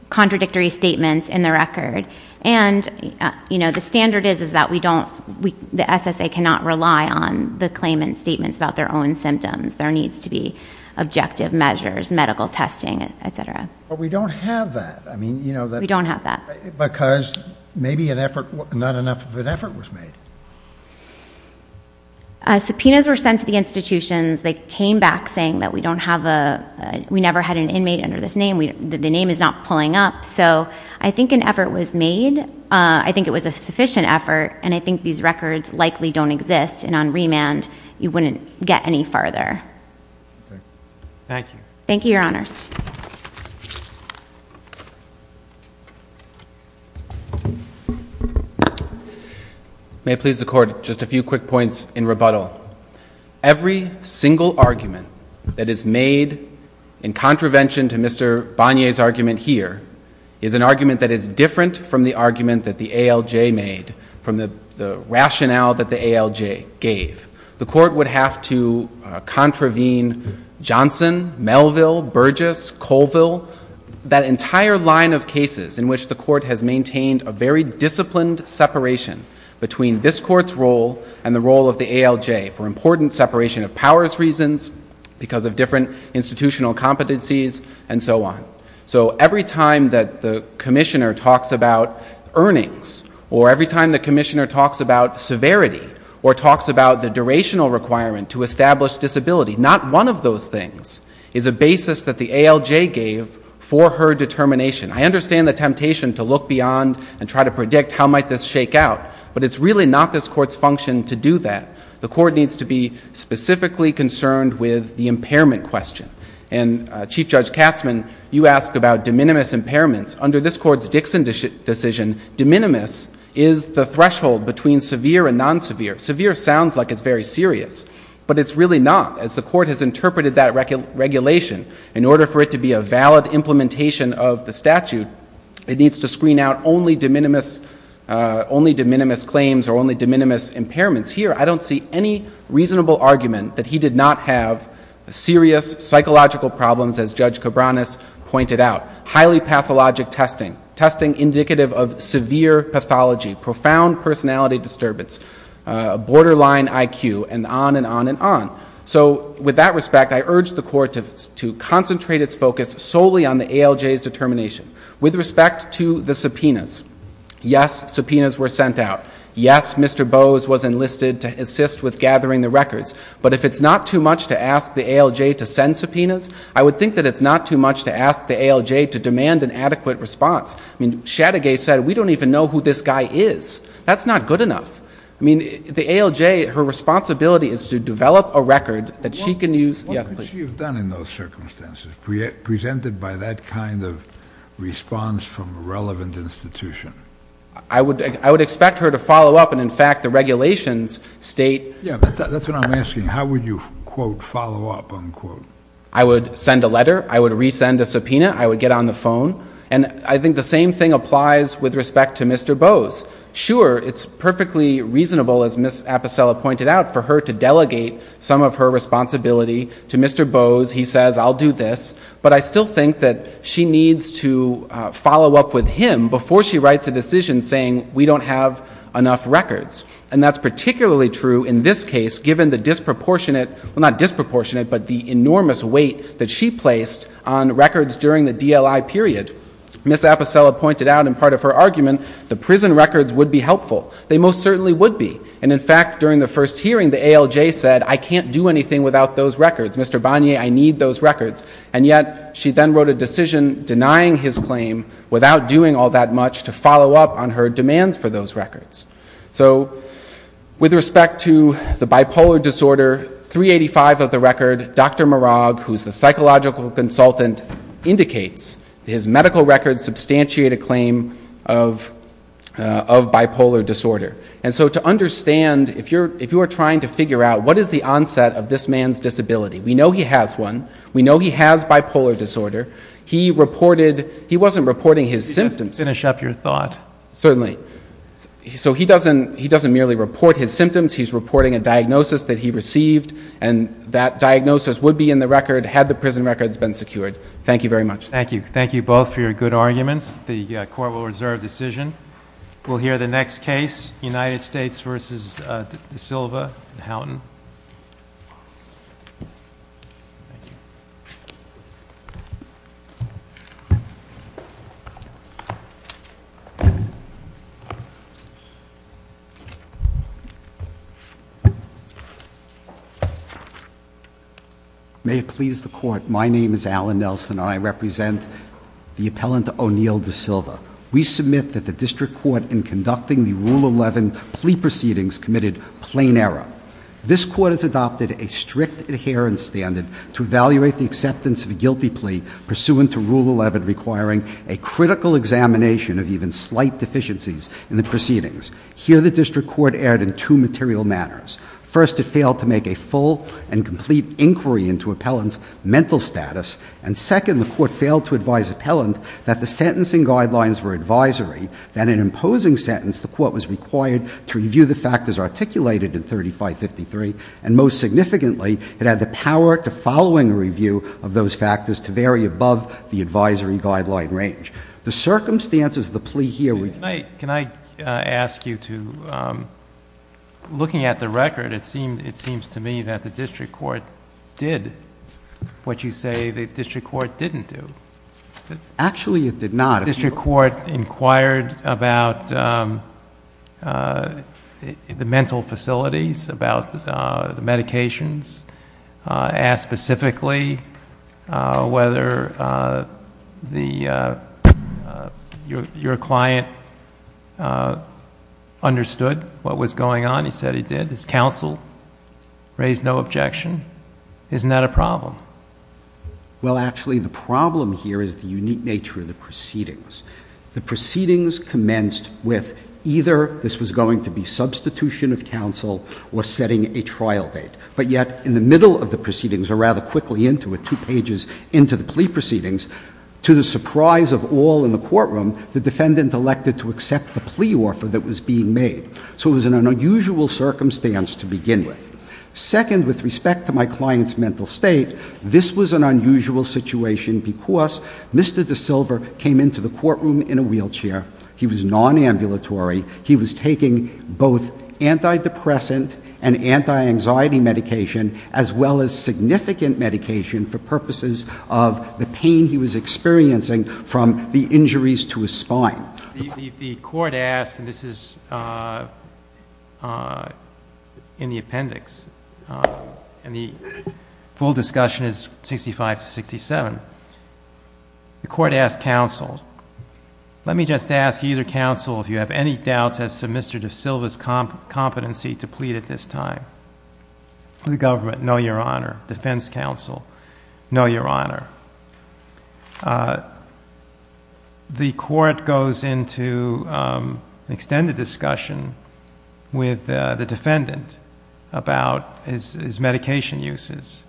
contradictory statements in the record, and the standard is that the SSA cannot rely on the claimant's statements about their own symptoms. There needs to be objective measures, medical testing, et cetera. But we don't have that. We don't have that. Because maybe not enough of an effort was made. Subpoenas were sent to the institutions. They came back saying that we never had an inmate under this name, that the name is not pulling up. So I think an effort was made. I think it was a sufficient effort, and I think these records likely don't exist, and on remand you wouldn't get any farther. Thank you. Thank you, Your Honor. May it please the Court, just a few quick points in rebuttal. Every single argument that is made in contravention to Mr. Bonnier's argument here is an argument that is different from the argument that the ALJ made, from the rationale that the ALJ gave. The Court would have to contravene Johnson, Melville, Burgess, Colville, that entire line of cases in which the Court has maintained a very disciplined separation between this Court's role and the role of the ALJ for important separation of powers reasons, because of different institutional competencies, and so on. So every time that the Commissioner talks about earnings, or every time the Commissioner talks about severity, or talks about the durational requirement to establish disability, not one of those things is a basis that the ALJ gave for her determination. I understand the temptation to look beyond and try to predict how might this shake out, but it's really not this Court's function to do that. The Court needs to be specifically concerned with the impairment question. And Chief Judge Katzmann, you asked about de minimis impairments. Under this Court's Dixon decision, de minimis is the threshold between severe and non-severe. Severe sounds like it's very serious, but it's really not, as the Court has interpreted that regulation in order for it to be a valid implementation of the statute, it needs to screen out only de minimis claims or only de minimis impairments. Here, I don't see any reasonable argument that he did not have serious psychological problems, as Judge Cabranes pointed out. Highly pathologic testing, testing indicative of severe pathology, profound personality disturbance, borderline IQ, and on and on and on. So, with that respect, I urge the Court to concentrate its focus solely on the ALJ's determination. With respect to the subpoenas, yes, subpoenas were sent out. Yes, Mr. Bowes was enlisted to assist with gathering the records. But if it's not too much to ask the ALJ to send subpoenas, I would think that it's not too much to ask the ALJ to demand an adequate response. I mean, Sadegay said, we don't even know who this guy is. That's not good enough. I mean, the ALJ, her responsibility is to develop a record that she can use. What could she have done in those circumstances, presented by that kind of response from a relevant institution? I would expect her to follow up. And, in fact, the regulations state that. That's what I'm asking. How would you, quote, follow up, unquote? I would send a letter. I would resend a subpoena. I would get on the phone. And I think the same thing applies with respect to Mr. Bowes. Sure, it's perfectly reasonable, as Ms. Aposella pointed out, for her to delegate some of her responsibility to Mr. Bowes. He says, I'll do this. But I still think that she needs to follow up with him before she writes a decision saying, we don't have enough records. And that's particularly true in this case, given the disproportionate, well, not disproportionate, but the enormous weight that she placed on records during the DLI period. Ms. Aposella pointed out in part of her argument, the prison records would be helpful. They most certainly would be. And, in fact, during the first hearing, the ALJ said, I can't do anything without those records. Mr. Bonnier, I need those records. And yet she then wrote a decision denying his claim without doing all that much to follow up on her demands for those records. So, with respect to the bipolar disorder, 385 of the record, Dr. Marag, who's the psychological consultant, indicates his medical records substantiate a claim of bipolar disorder. And so to understand, if you are trying to figure out what is the onset of this man's disability, we know he has one, we know he has bipolar disorder, he reported, he wasn't reporting his symptoms. Could you finish up your thought? Certainly. So he doesn't merely report his symptoms, he's reporting a diagnosis that he received, and that diagnosis would be in the record had the prison records been secured. Thank you very much. Thank you. Thank you both for your good arguments. The Court will reserve decision. We'll hear the next case, United States v. De Silva, Houghton. May it please the Court, my name is Alan Nelson, and I represent the appellant O'Neill De Silva. We submit that the District Court, in conducting the Rule 11 plea proceedings, committed plain error. This Court has adopted a strict adherence standard to evaluate the acceptance of a guilty plea pursuant to Rule 11 requiring a critical examination of the defendant's medical records. Here, the District Court erred in two material matters. First, it failed to make a full and complete inquiry into appellant's mental status, and second, the Court failed to advise appellant that the sentencing guidelines were advisory, that in imposing sentence, the Court was required to review the factors articulated in 3553, and most significantly, it had the power to following review of those factors to vary above the advisory guideline range. The circumstances of the plea here were... Can I ask you to... looking at the record, it seems to me that the District Court did what you say the District Court didn't do. Actually, it did not. The District Court inquired about the mental facilities, about the medications, asked specifically whether your client understood what was going on. He said he did. He's counseled, raised no objection. Isn't that a problem? Well, actually, the problem here is the unique nature of the proceedings. The proceedings commenced with either this was going to be substitution of counsel or setting a trial date. But yet, in the middle of the proceedings, or rather quickly into it, two pages into the plea proceedings, to the surprise of all in the courtroom, the defendant elected to accept the plea offer that was being made. So it was an unusual circumstance to begin with. Second, with respect to my client's mental state, this was an unusual situation because Mr. DeSilva came into the courtroom in a wheelchair. He was nonambulatory. He was taking both antidepressant and anti-anxiety medication, as well as significant medication for purposes of the pain he was experiencing from the injuries to his spine. The court asked, and this is in the appendix, and the full discussion is 65 to 67. The court asked counsel, let me just ask either counsel if you have any doubts as to Mr. DeSilva's competency to plead at this time. To the government, no, Your Honor. Defense counsel, no, Your Honor. The court goes into extended discussion with the defendant about his medication uses.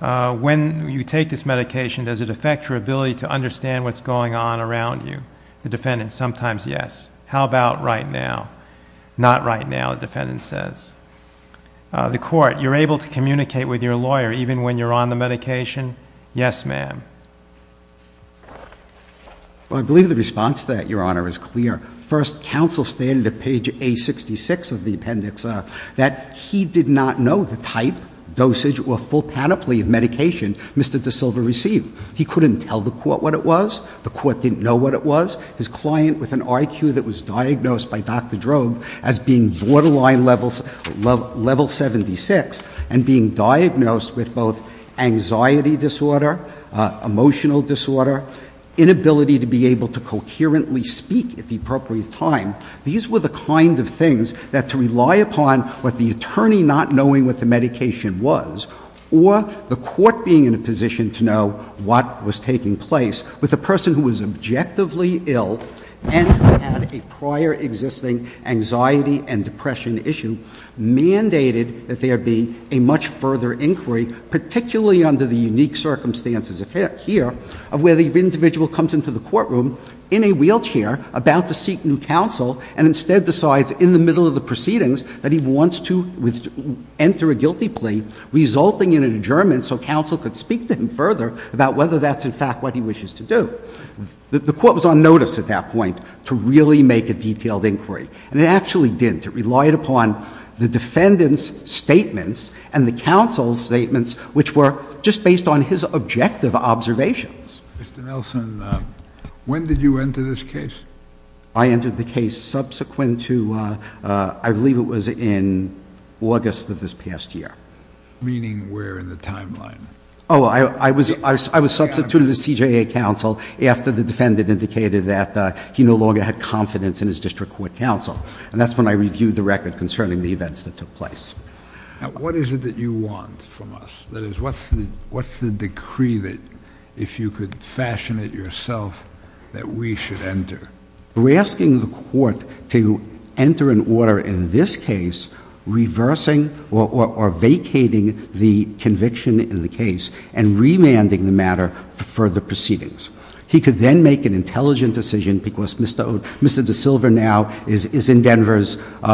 When you take this medication, does it affect your ability to understand what's going on around you? The defendant sometimes, yes. How about right now? Not right now, the defendant says. The court, you're able to communicate with your lawyer even when you're on the medication? Yes, ma'am. I believe the response to that, Your Honor, is clear. First, counsel stated at page A66 of the appendix that he did not know the type, dosage, or full panoply of medication Mr. DeSilva received. He couldn't tell the court what it was. The court didn't know what it was. His client with an IQ that was diagnosed by Dr. Drogue as being borderline level 76 and being diagnosed with both anxiety disorder, emotional disorder, inability to be able to concurrently speak at the appropriate time, these were the kind of things that to rely upon what the attorney not knowing what the medication was or the court being in a position to know what was taking place with a person who was objectively ill and had a prior existing anxiety and depression issue mandated that there be a much further inquiry, particularly under the unique circumstances here, where the individual comes into the courtroom in a wheelchair about to seek new counsel and instead decides in the middle of the proceedings that he wants to enter a guilty plea, resulting in an adjournment so counsel could speak to him further about whether that's in fact what he wishes to do. The court was on notice at that point to really make a detailed inquiry. And it actually didn't. It relied upon the defendant's statements and the counsel's statements, which were just based on his objective observations. Mr. Nelson, when did you enter this case? I entered the case subsequent to, I believe it was in August of this past year. Meaning where in the timeline? Oh, I was substituted as TJA counsel after the defendant indicated that he no longer had confidence in his district court counsel. And that's when I reviewed the record concerning the events that took place. What is it that you want from us? That is, what's the decree that if you could fashion it yourself that we should enter? We're asking the court to enter an order in this case reversing or vacating the conviction in the case and remanding the matter for further proceedings. He could then make an intelligent decision because Mr. DeSilva now is in Denver.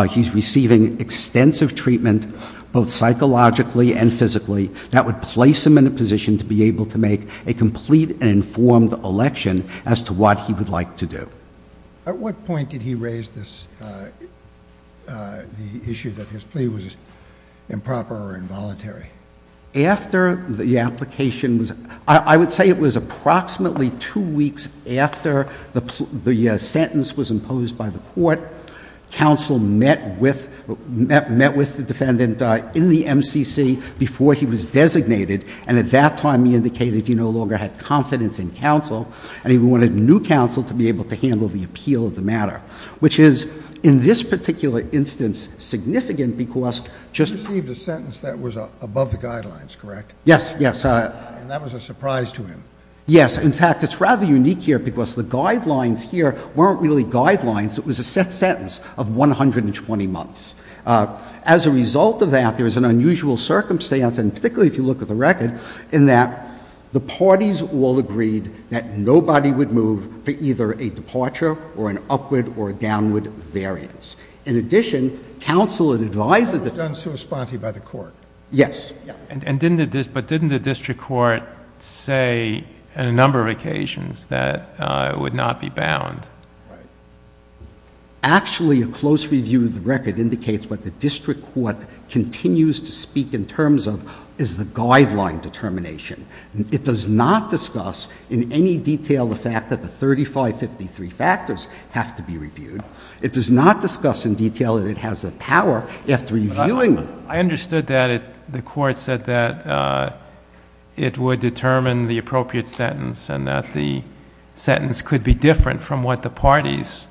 He's receiving extensive treatment both psychologically and physically that would place him in a position to be able to make a complete and informed election as to what he would like to do. At what point did he raise the issue that his plea was improper or involuntary? After the application, I would say it was approximately two weeks after the sentence was imposed by the court. Counsel met with the defendant in the MCC before he was designated. And at that time he indicated he no longer had confidence in counsel. And he wanted new counsel to be able to handle the appeal of the matter, which is in this particular instance significant because just as a matter of fact, he received a sentence that was above the guidelines, correct? Yes, yes. And that was a surprise to him. Yes. In fact, it's rather unique here because the guidelines here weren't really guidelines. It was a sentence of 120 months. As a result of that, there was an unusual circumstance, and particularly if you look at the record, in that the parties all agreed that nobody would move for either a departure or an upward or a downward variance. In addition, counsel advised the defense to respond to it by the court. Yes. And didn't the district court say on a number of occasions that it would not be bound? Actually, a close review of the record indicates what the district court continues to speak in terms of is the guideline determination. It does not discuss in any detail the fact that the 3553 factors have to be reviewed. It does not discuss in detail that it has the power after reviewing them. I understood that the court said that it would determine the appropriate sentence and that the sentence could be different from what the parties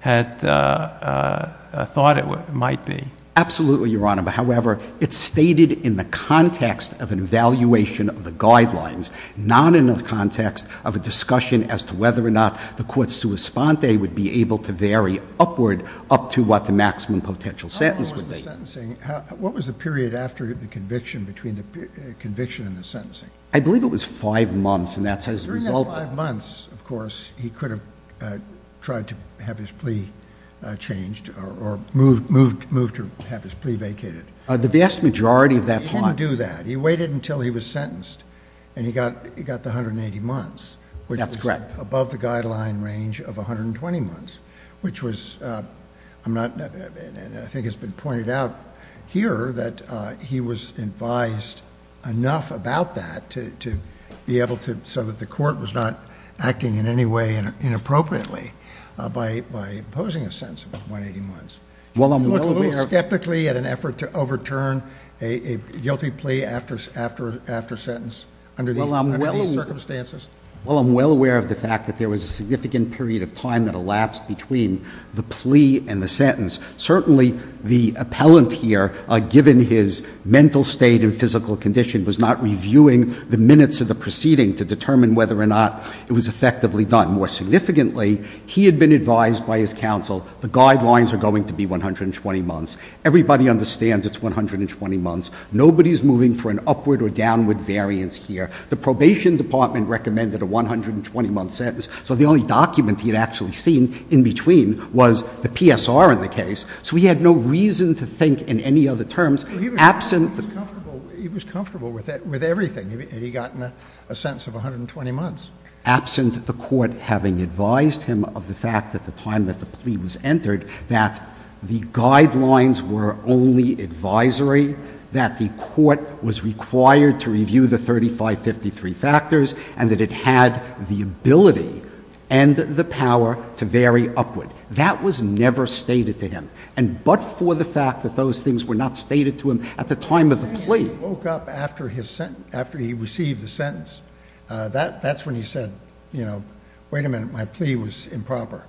had thought it might be. Absolutely, Your Honor. However, it's stated in the context of an evaluation of the guidelines, not in the context of a discussion as to whether or not the court's sua sponte would be able to vary upward up to what the maximum potential sentence would be. How long was the sentencing? What was the period after the conviction between the conviction and the sentencing? I believe it was five months. Five months, of course. He could have tried to have his plea changed or moved to have his plea vacated. The vast majority of that time. He didn't do that. He waited until he was sentenced and he got the 180 months. That's correct. Well, I'm well aware of the fact that the court was able to do that. Well, I'm well aware of the fact that there was a significant period of time that elapsed between the plea and the sentence. Certainly, the appellant here, given his mental state and physical condition, was not reviewing the minutes of the proceeding to determine whether or not it was effectively done. More significantly, he had been advised by his counsel, the guidelines are going to be 120 months. Everybody understands it's 120 months. Nobody's moving for an upward or downward variance here. The probation department recommended a 120-month sentence, so the only document he had actually seen in between was the PSR in the case. So he had no reason to think in any other terms. He was comfortable with everything, and he got a sentence of 120 months. Absent the court having advised him of the fact at the time that the plea was entered that the guidelines were only advisory, that the court was required to review the 3553 factors, and that it had the ability and the power to vary upward. That was never stated to him. And but for the fact that those things were not stated to him at the time of the plea. When he woke up after he received the sentence, that's when he said, you know, wait a minute, my plea was improper.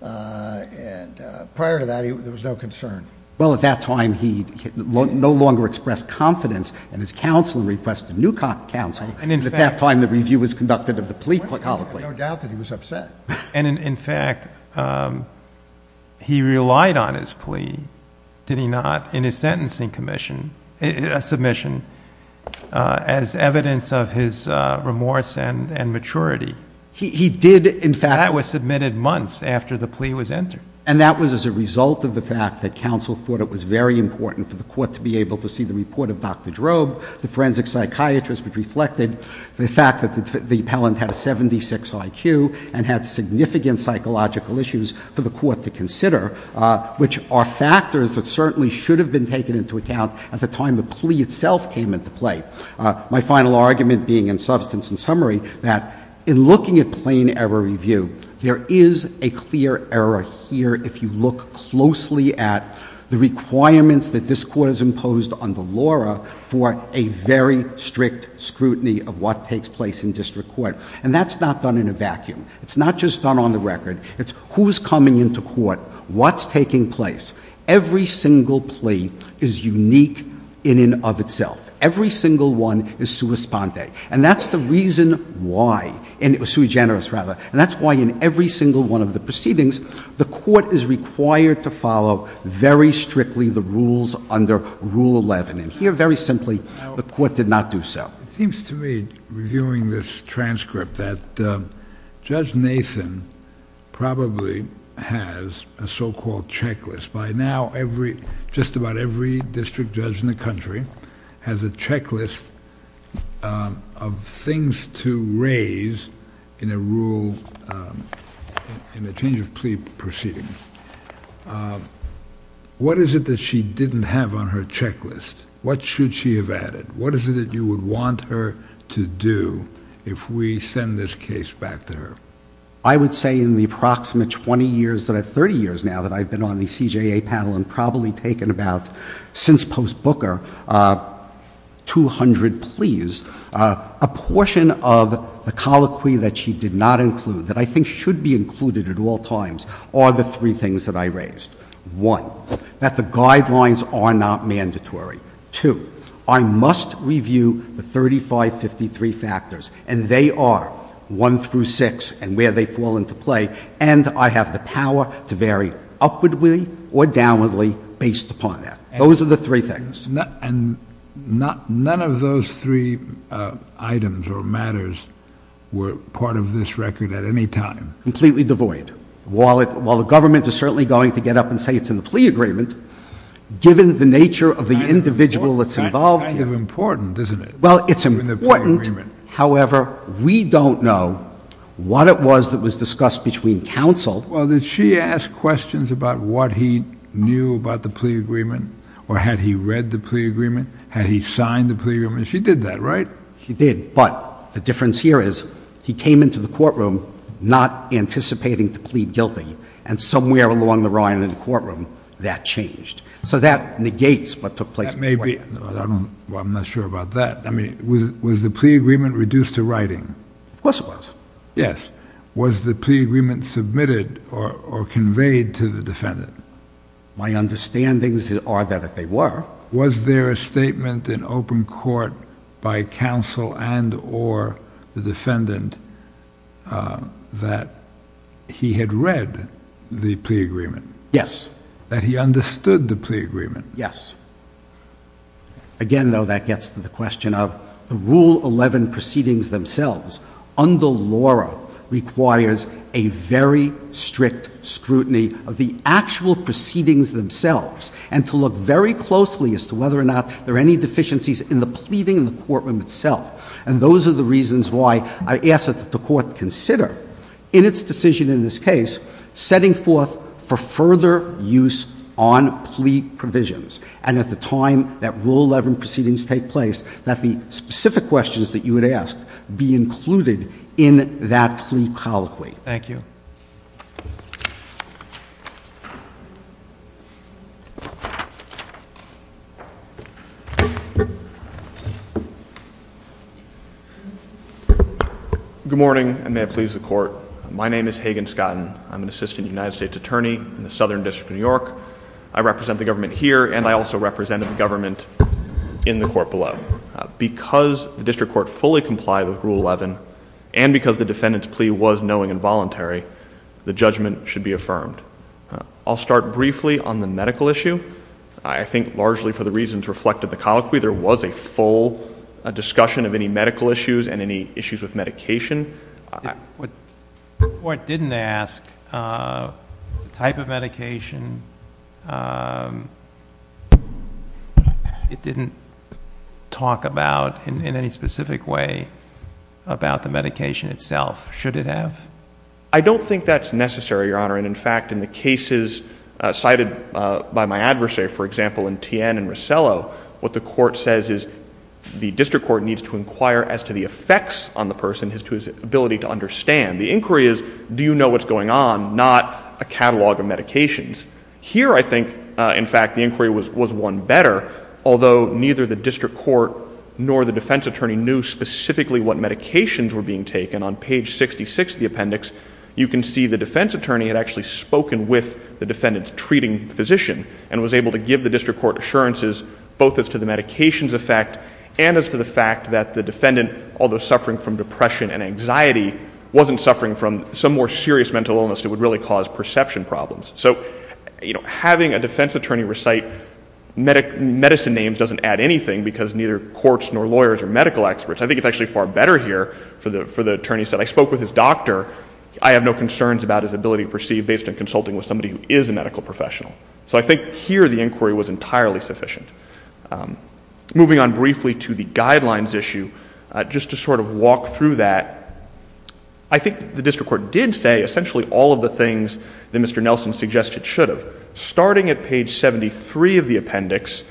And prior to that, there was no concern. Well, at that time, he no longer expressed confidence in his counsel and requested a new counsel. And at that time, the review was conducted of the plea. I have no doubt that he was upset. And in fact, he relied on his plea, did he not, in his sentencing submission as evidence of his remorse and maturity. He did, in fact. That was submitted months after the plea was entered. And that was as a result of the fact that counsel thought it was very important for the court to be able to see the report of Dr. Drobe, the forensic psychiatrist, which reflected the fact that the appellant had a 76 IQ and had significant psychological issues for the court to consider, which are factors that certainly should have been taken into account at the time the plea itself came into play. My final argument being, in substance and summary, that in looking at plain error review, there is a clear error here if you look closely at the requirements that this Court has imposed under Laura for a very strict scrutiny of what takes place in district court. And that's not done in a vacuum. It's not just done on the record. It's who's coming into court, what's taking place. Every single plea is unique in and of itself. Every single one is sua sponte. And that's the reason why. And it was sui generis, rather. And that's why in every single one of the proceedings, the court is required to follow very strictly the rules under Rule 11. And here, very simply, the court did not do so. It seems to me, reviewing this transcript, that Judge Nathan probably has a so-called checklist. By now, just about every district judge in the country has a checklist of things to raise in a change-of-plea proceeding. What is it that she didn't have on her checklist? What should she have added? What is it that you would want her to do if we send this case back to her? I would say in the approximate 20 years to the 30 years now that I've been on the CJA panel and probably taken about since post-Booker, 200 pleas, a portion of the colloquy that she did not include, that I think should be included at all times, are the three things that I raised. One, that the guidelines are not mandatory. Two, I must review the 3553 factors. And they are one through six and where they fall into play. And I have the power to vary upwardly or downwardly based upon that. Those are the three things. And none of those three items or matters were part of this record at any time? Completely devoid. While the government is certainly going to get up and say it's in the plea agreement, given the nature of the individual that's involved— It's kind of important, isn't it? Well, it's important. However, we don't know what it was that was discussed between counsel— Well, did she ask questions about what he knew about the plea agreement? Or had he read the plea agreement? Had he signed the plea agreement? She did that, right? She did. But the difference here is he came into the courtroom not anticipating the plea gilting. And somewhere along the line in the courtroom, that changed. So that negates what took place. Well, I'm not sure about that. Was the plea agreement reduced to writing? Of course it was. Yes. Was the plea agreement submitted or conveyed to the defendant? My understandings are that they were. Was there a statement in open court by counsel and or the defendant that he had read the plea agreement? Yes. That he understood the plea agreement? Yes. Again, though, that gets to the question of the Rule 11 proceedings themselves. Under Laura requires a very strict scrutiny of the actual proceedings themselves and to look very closely as to whether or not there are any deficiencies in the pleading in the courtroom itself. And those are the reasons why I ask that the court consider, in its decision in this case, setting forth for further use on plea provisions. And at the time that Rule 11 proceedings take place, that the specific questions that you would ask be included in that plea colloquy. Thank you. Good morning, and may it please the Court. My name is Hagan Scotten. I'm an assistant United States attorney in the Southern District of New York. I represent the government here, and I also represent the government in the court below. Because the district court fully complied with Rule 11, and because the defendant's plea was knowing and voluntary, the judgment should be affirmed. I'll start briefly on the medical issue. I think largely for the reasons reflected in the colloquy, there was a full discussion of any medical issues and any issues with medication. The court didn't ask what type of medication it didn't talk about in any specific way about the medication itself. Should it have? I don't think that's necessary, Your Honor. And, in fact, in the cases cited by my adversary, for example, in Tien and Rosello, what the court says is the district court needs to inquire as to the effects on the person as to his ability to understand. The inquiry is, do you know what's going on, not a catalog of medications. Here, I think, in fact, the inquiry was one better, although neither the district court nor the defense attorney knew specifically what medications were being taken. And on page 66 of the appendix, you can see the defense attorney had actually spoken with the defendant's treating physician and was able to give the district court assurances both as to the medications effect and as to the fact that the defendant, although suffering from depression and anxiety, wasn't suffering from some more serious mental illness that would really cause perception problems. So, you know, having a defense attorney recite medicine names doesn't add anything because neither courts nor lawyers or medical experts. I think it's actually far better here for the attorney to say, I spoke with his doctor. I have no concerns about his ability to perceive based on consulting with somebody who is a medical professional. So I think here the inquiry was entirely sufficient. Moving on briefly to the guidelines issue, just to sort of walk through that, I think the district court did say essentially all of the things that Mr. Nelson suggested should have. Starting at page 73 of the appendix,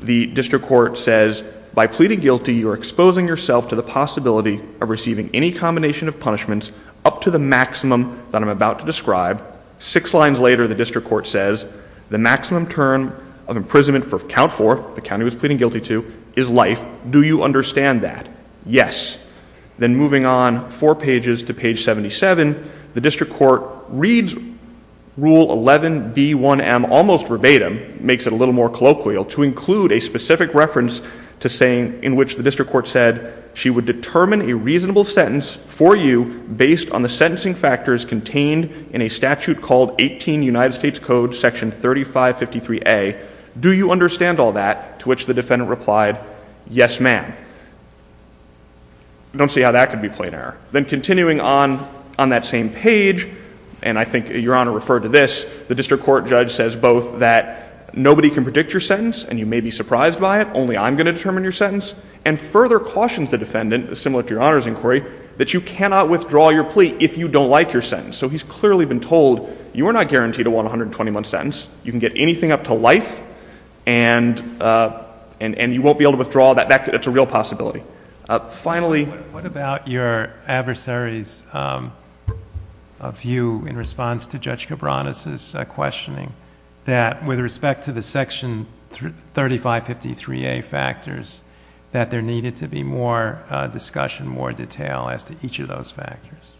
the district court says, by pleading guilty, you are exposing yourself to the possibility of receiving any combination of punishments up to the maximum that I'm about to describe. Six lines later, the district court says, the maximum term of imprisonment for count four, the county was pleading guilty to, is life. Do you understand that? Yes. Then moving on four pages to page 77, the district court reads Rule 11B1M almost verbatim, makes it a little more colloquial, to include a specific reference to saying, in which the district court said, she would determine a reasonable sentence for you based on the sentencing factors contained in a statute called 18 United States Code Section 3553A. Do you understand all that? To which the defendant replied, yes, ma'am. I don't see how that could be plain error. Then continuing on that same page, and I think Your Honor referred to this, the district court judge says both that nobody can predict your sentence, and you may be surprised by it, only I'm going to determine your sentence, and further cautions the defendant, similar to Your Honor's inquiry, that you cannot withdraw your plea if you don't like your sentence. So he's clearly been told, you are not guaranteed a 121 sentence. You can get anything up to life, and you won't be able to withdraw that. That's a real possibility. Finally. What about your adversary's view in response to Judge Cabranes' questioning, that with respect to the Section 3553A factors, that there needed to be more discussion, more detail as to each of those factors?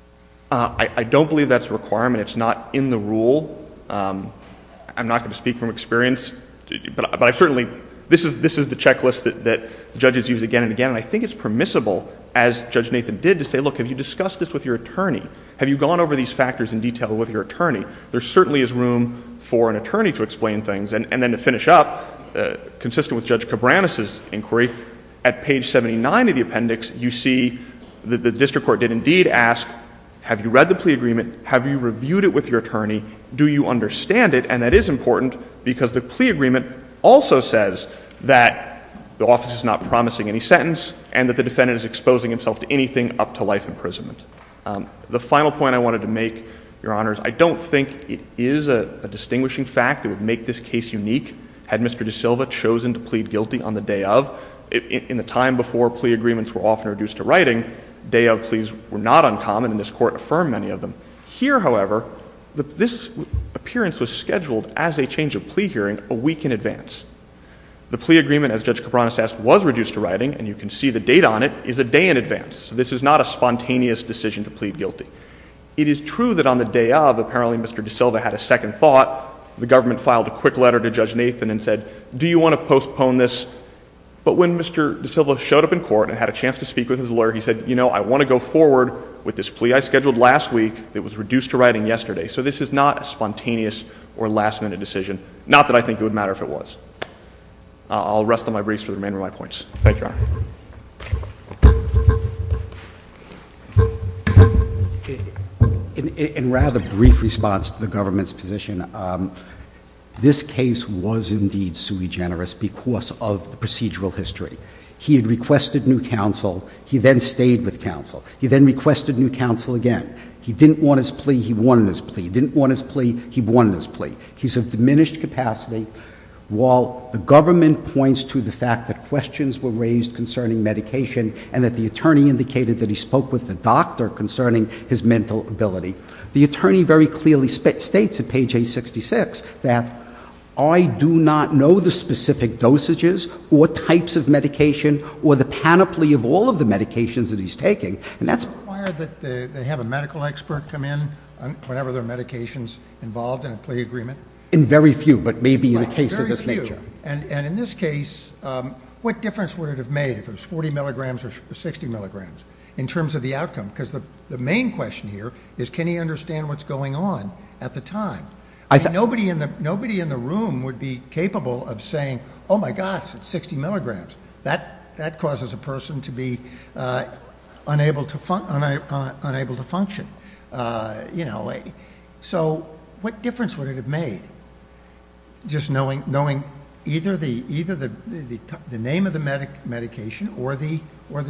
I don't believe that's a requirement. It's not in the rule. I'm not going to speak from experience. But I certainly, this is the checklist that judges use again and again, and I think it's permissible, as Judge Nathan did, to say, look, have you discussed this with your attorney? Have you gone over these factors in detail with your attorney? There certainly is room for an attorney to explain things. And then to finish up, consistent with Judge Cabranes' inquiry, at page 79 of the appendix, you see that the district court did indeed ask, have you read the plea agreement? Have you reviewed it with your attorney? Do you understand it? And that is important because the plea agreement also says that the office is not promising any sentence and that the defendant is exposing himself to anything up to life imprisonment. The final point I wanted to make, Your Honors, I don't think it is a distinguishing fact that would make this case unique had Mr. De Silva chosen to plead guilty on the day of. In the time before plea agreements were often reduced to writing, day of pleas were not uncommon, and this Court affirmed many of them. Here, however, this appearance was scheduled as a change of plea hearing a week in advance. The plea agreement, as Judge Cabranes asked, was reduced to writing, and you can see the date on it, is a day in advance. So this is not a spontaneous decision to plead guilty. It is true that on the day of, apparently Mr. De Silva had a second thought. The government filed a quick letter to Judge Nathan and said, do you want to postpone this? But when Mr. De Silva showed up in court and had a chance to speak with his lawyer, he said, you know, I want to go forward with this plea I scheduled last week. It was reduced to writing yesterday. So this is not a spontaneous or last-minute decision, not that I think it would matter if it was. I'll rest on my briefs for the remainder of my points. Thank you, Your Honor. In rather brief response to the government's position, this case was indeed sui generis because of procedural history. He had requested new counsel. He then stayed with counsel. He then requested new counsel again. He didn't want his plea. He won his plea. He didn't want his plea. He won his plea. He's of diminished capacity while the government points to the fact that questions were raised concerning medication and that the attorney indicated that he spoke with the doctor concerning his mental ability. The attorney very clearly states at page 866 that I do not know the specific dosages or types of medication or the panoply of all of the medications that he's taking. And that's why I think they have a medical expert come in whenever there are medical experts involved in a plea agreement. In very few, but maybe in the case of this nature. In very few. And in this case, what difference would it have made if it was 40 milligrams or 60 milligrams in terms of the outcome? Because the main question here is can you understand what's going on at the time? Nobody in the room would be capable of saying, oh, my gosh, it's 60 milligrams. That causes a person to be unable to function. So what difference would it have made just knowing either the name of the medication or the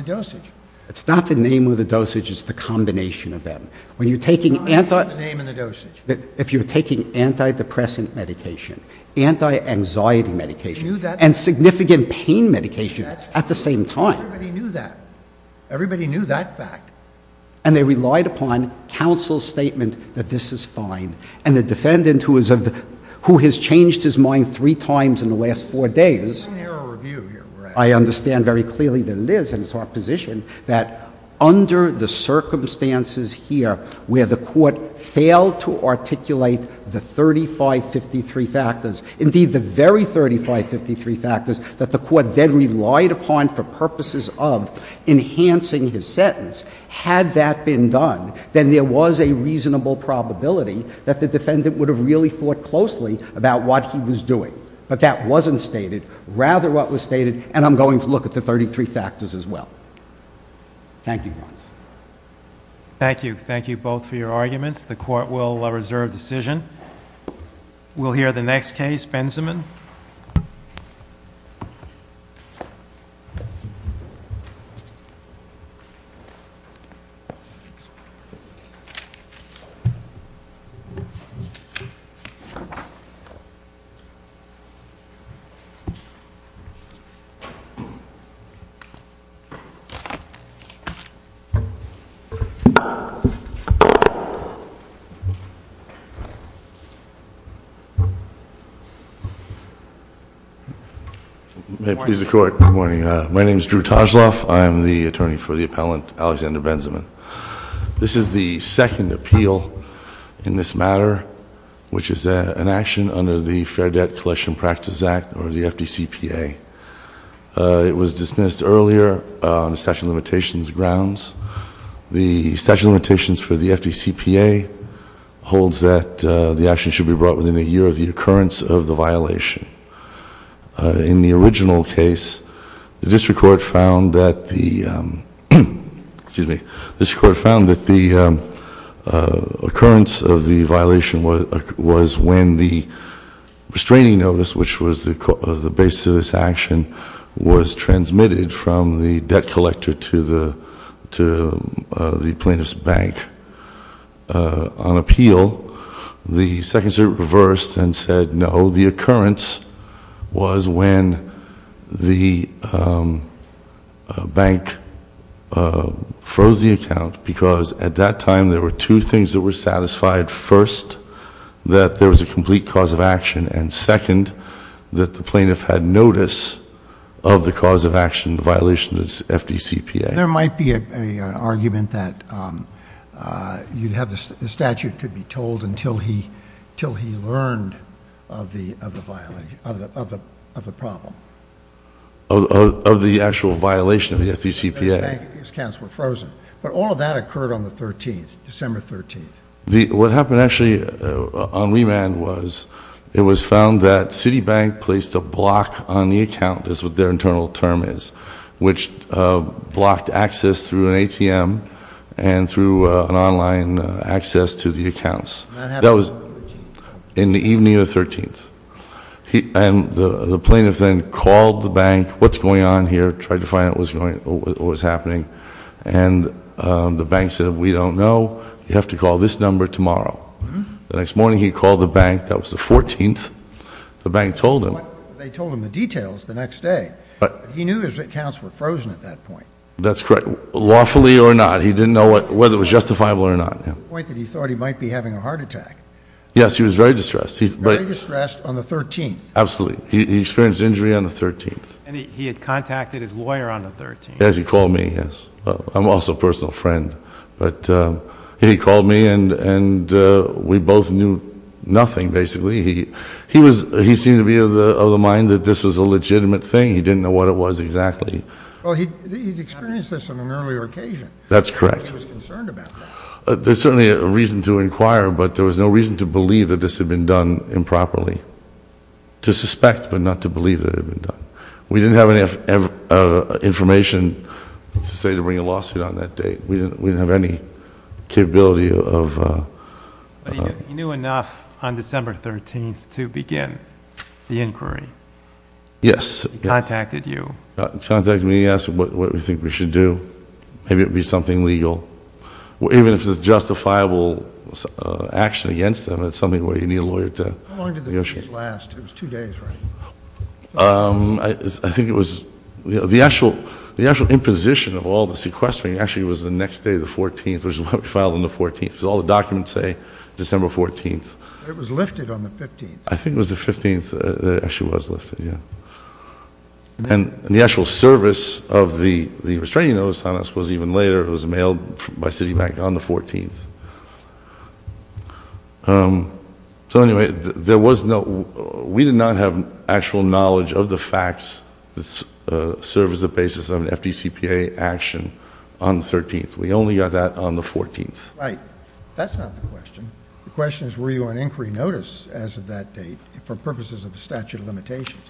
dosage? It's not the name of the dosage, it's the combination of them. It's not the name of the dosage. If you're taking antidepressant medication, anti-anxiety medication, and significant pain medication at the same time. Everybody knew that. Everybody knew that fact. And they relied upon counsel's statement that this is fine. And the defendant who has changed his mind three times in the last four days, I understand very clearly that it is, and it's our position, that under the circumstances here where the court failed to articulate the 3553 factors, indeed the very 3553 factors that the court then relied upon for purposes of enhancing his sentence, had that been done, then there was a reasonable probability that the defendant would have really thought closely about what he was doing. But that wasn't stated. Rather what was stated, and I'm going to look at the 33 factors as well. Thank you. Thank you. Thank you both for your arguments. The court will reserve decision. We'll hear the next case. Mr. Benjamin. May it please the Court. Good morning. My name is Drew Toshloff. I'm the attorney for the appellant Alexander Benjamin. This is the second appeal in this matter, which is an action under the Fair Debt Collection Practice Act, or the FDCPA. It was dismissed earlier on the statute of limitations grounds. The statute of limitations for the FDCPA holds that the action should be brought forward within a year of the occurrence of the violation. In the original case, the district court found that the occurrence of the violation was when the restraining notice, which was the basis of this action, was transmitted from the debt collector to the plaintiff's bank. On appeal, the second circuit reversed and said no, the occurrence was when the bank froze the account because at that time there were two things that were satisfied. First, that there was a complete cause of action, and second, that the plaintiff had notice of the cause of action, the violation of the FDCPA. There might be an argument that you have the statute to be told until he learned of the problem. Of the actual violation of the FDCPA. His accounts were frozen. But all of that occurred on the 13th, December 13th. What happened actually on remand was it was found that Citibank placed a block on the account, is what their internal term is, which blocked access through an ATM and through an online access to the accounts. That was in the evening of the 13th. And the plaintiff then called the bank, what's going on here, tried to find out what was happening, and the bank said we don't know, you have to call this number tomorrow. The next morning he called the bank, that was the 14th, the bank told him. They told him the details the next day. He knew his accounts were frozen at that point. That's correct. Lawfully or not, he didn't know whether it was justifiable or not. To the point that he thought he might be having a heart attack. Yes, he was very distressed. Very distressed on the 13th. Absolutely. He experienced injury on the 13th. And he had contacted his lawyer on the 13th. Yes, he called me, yes. I'm also a personal friend. But he called me and we both knew nothing, basically. He seemed to be of the mind that this was a legitimate thing. He didn't know what it was exactly. He experienced this on an earlier occasion. That's correct. He was concerned about this. There's certainly a reason to inquire, but there was no reason to believe that this had been done improperly. To suspect, but not to believe that it had been done. We didn't have any information to bring a lawsuit on that date. We didn't have any capability of... But he knew enough on December 13th to begin the inquiry. Yes. He contacted you. He contacted me. He asked what we think we should do. Maybe it would be something legal. Even if it was justifiable action against him, it's something where you need a lawyer to negotiate. How long did the case last? It was two days, right? I think it was... The actual imposition of all the sequestering actually was the next day, the 14th. It was filed on the 14th. That's what all the documents say, December 14th. It was lifted on the 15th. I think it was the 15th that it actually was lifted, yeah. And the actual service of the restraining notice on us was even later. It was mailed by Citibank on the 14th. So, anyway, there was no... We did not have actual knowledge of the facts that served as a basis of an FDCPA action on the 13th. We only got that on the 14th. Right. That's not the question. The question is were you on inquiry notice as of that date for purposes of the statute of limitations?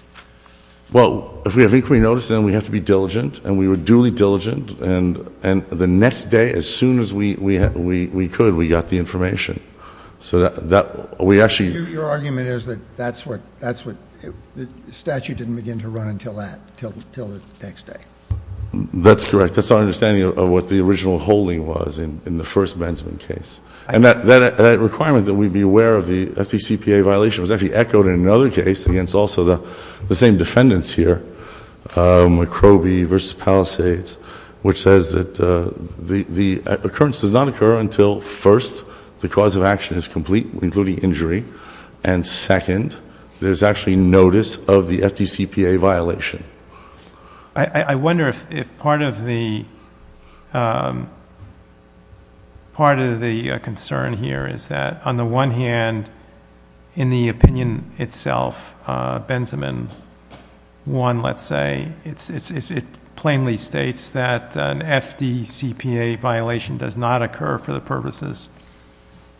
Well, if we have inquiry notice, then we have to be diligent, and we were duly diligent. And the next day, as soon as we could, we got the information. So that we actually... So your argument is that that's what... The statute didn't begin to run until that, until the next day. That's correct. That's our understanding of what the original holding was in the first Benson case. And that requirement that we be aware of the FDCPA violation was actually echoed in another case, against also the same defendants here, McCrovey v. Palisades, which says that the occurrence does not occur until, first, the cause of action is complete, including injury, and, second, there's actually notice of the FDCPA violation. I wonder if part of the concern here is that, on the one hand, in the opinion itself, Benjamin 1, let's say, it plainly states that an FDCPA violation does not occur for the purposes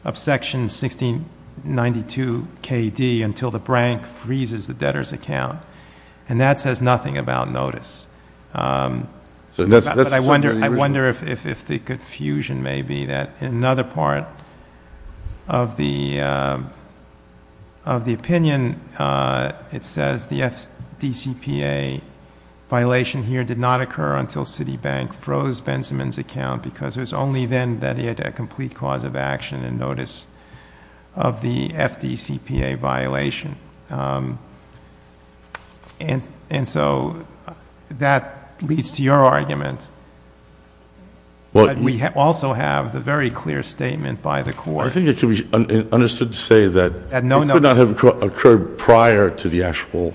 of Section 1692KD until the brank freezes the debtor's account. And that says nothing about notice. But I wonder if the confusion may be that, in another part of the opinion, it says the FDCPA violation here did not occur until Citibank froze Benjamin's account because it was only then that he had a complete cause of action and notice of the FDCPA violation. And so that leads to your argument that we also have the very clear statement by the Court— I think it can be understood to say that it could not have occurred prior to the actual—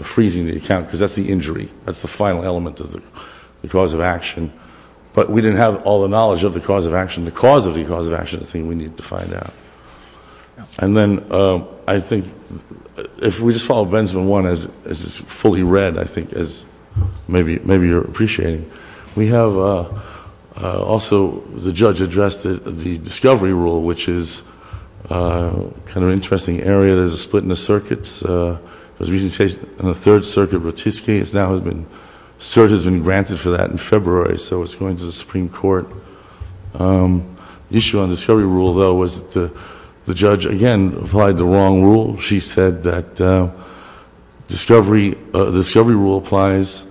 freezing the account because that's the injury. That's the final element of the cause of action. But we didn't have all the knowledge of the cause of action. The cause of the cause of action is the thing we need to find out. And then I think if we just follow Benjamin 1 as it's fully read, I think, as maybe you're appreciating, we have also the judge addressed the discovery rule, which is kind of an interesting area. There's a split in the circuits. It was recently changed on the Third Circuit of Rotisky. It now has been—Cert has been granted for that in February, so it's going to the Supreme Court. The issue on the discovery rule, though, was that the judge, again, applied the wrong rule. She said that discovery—the discovery rule applies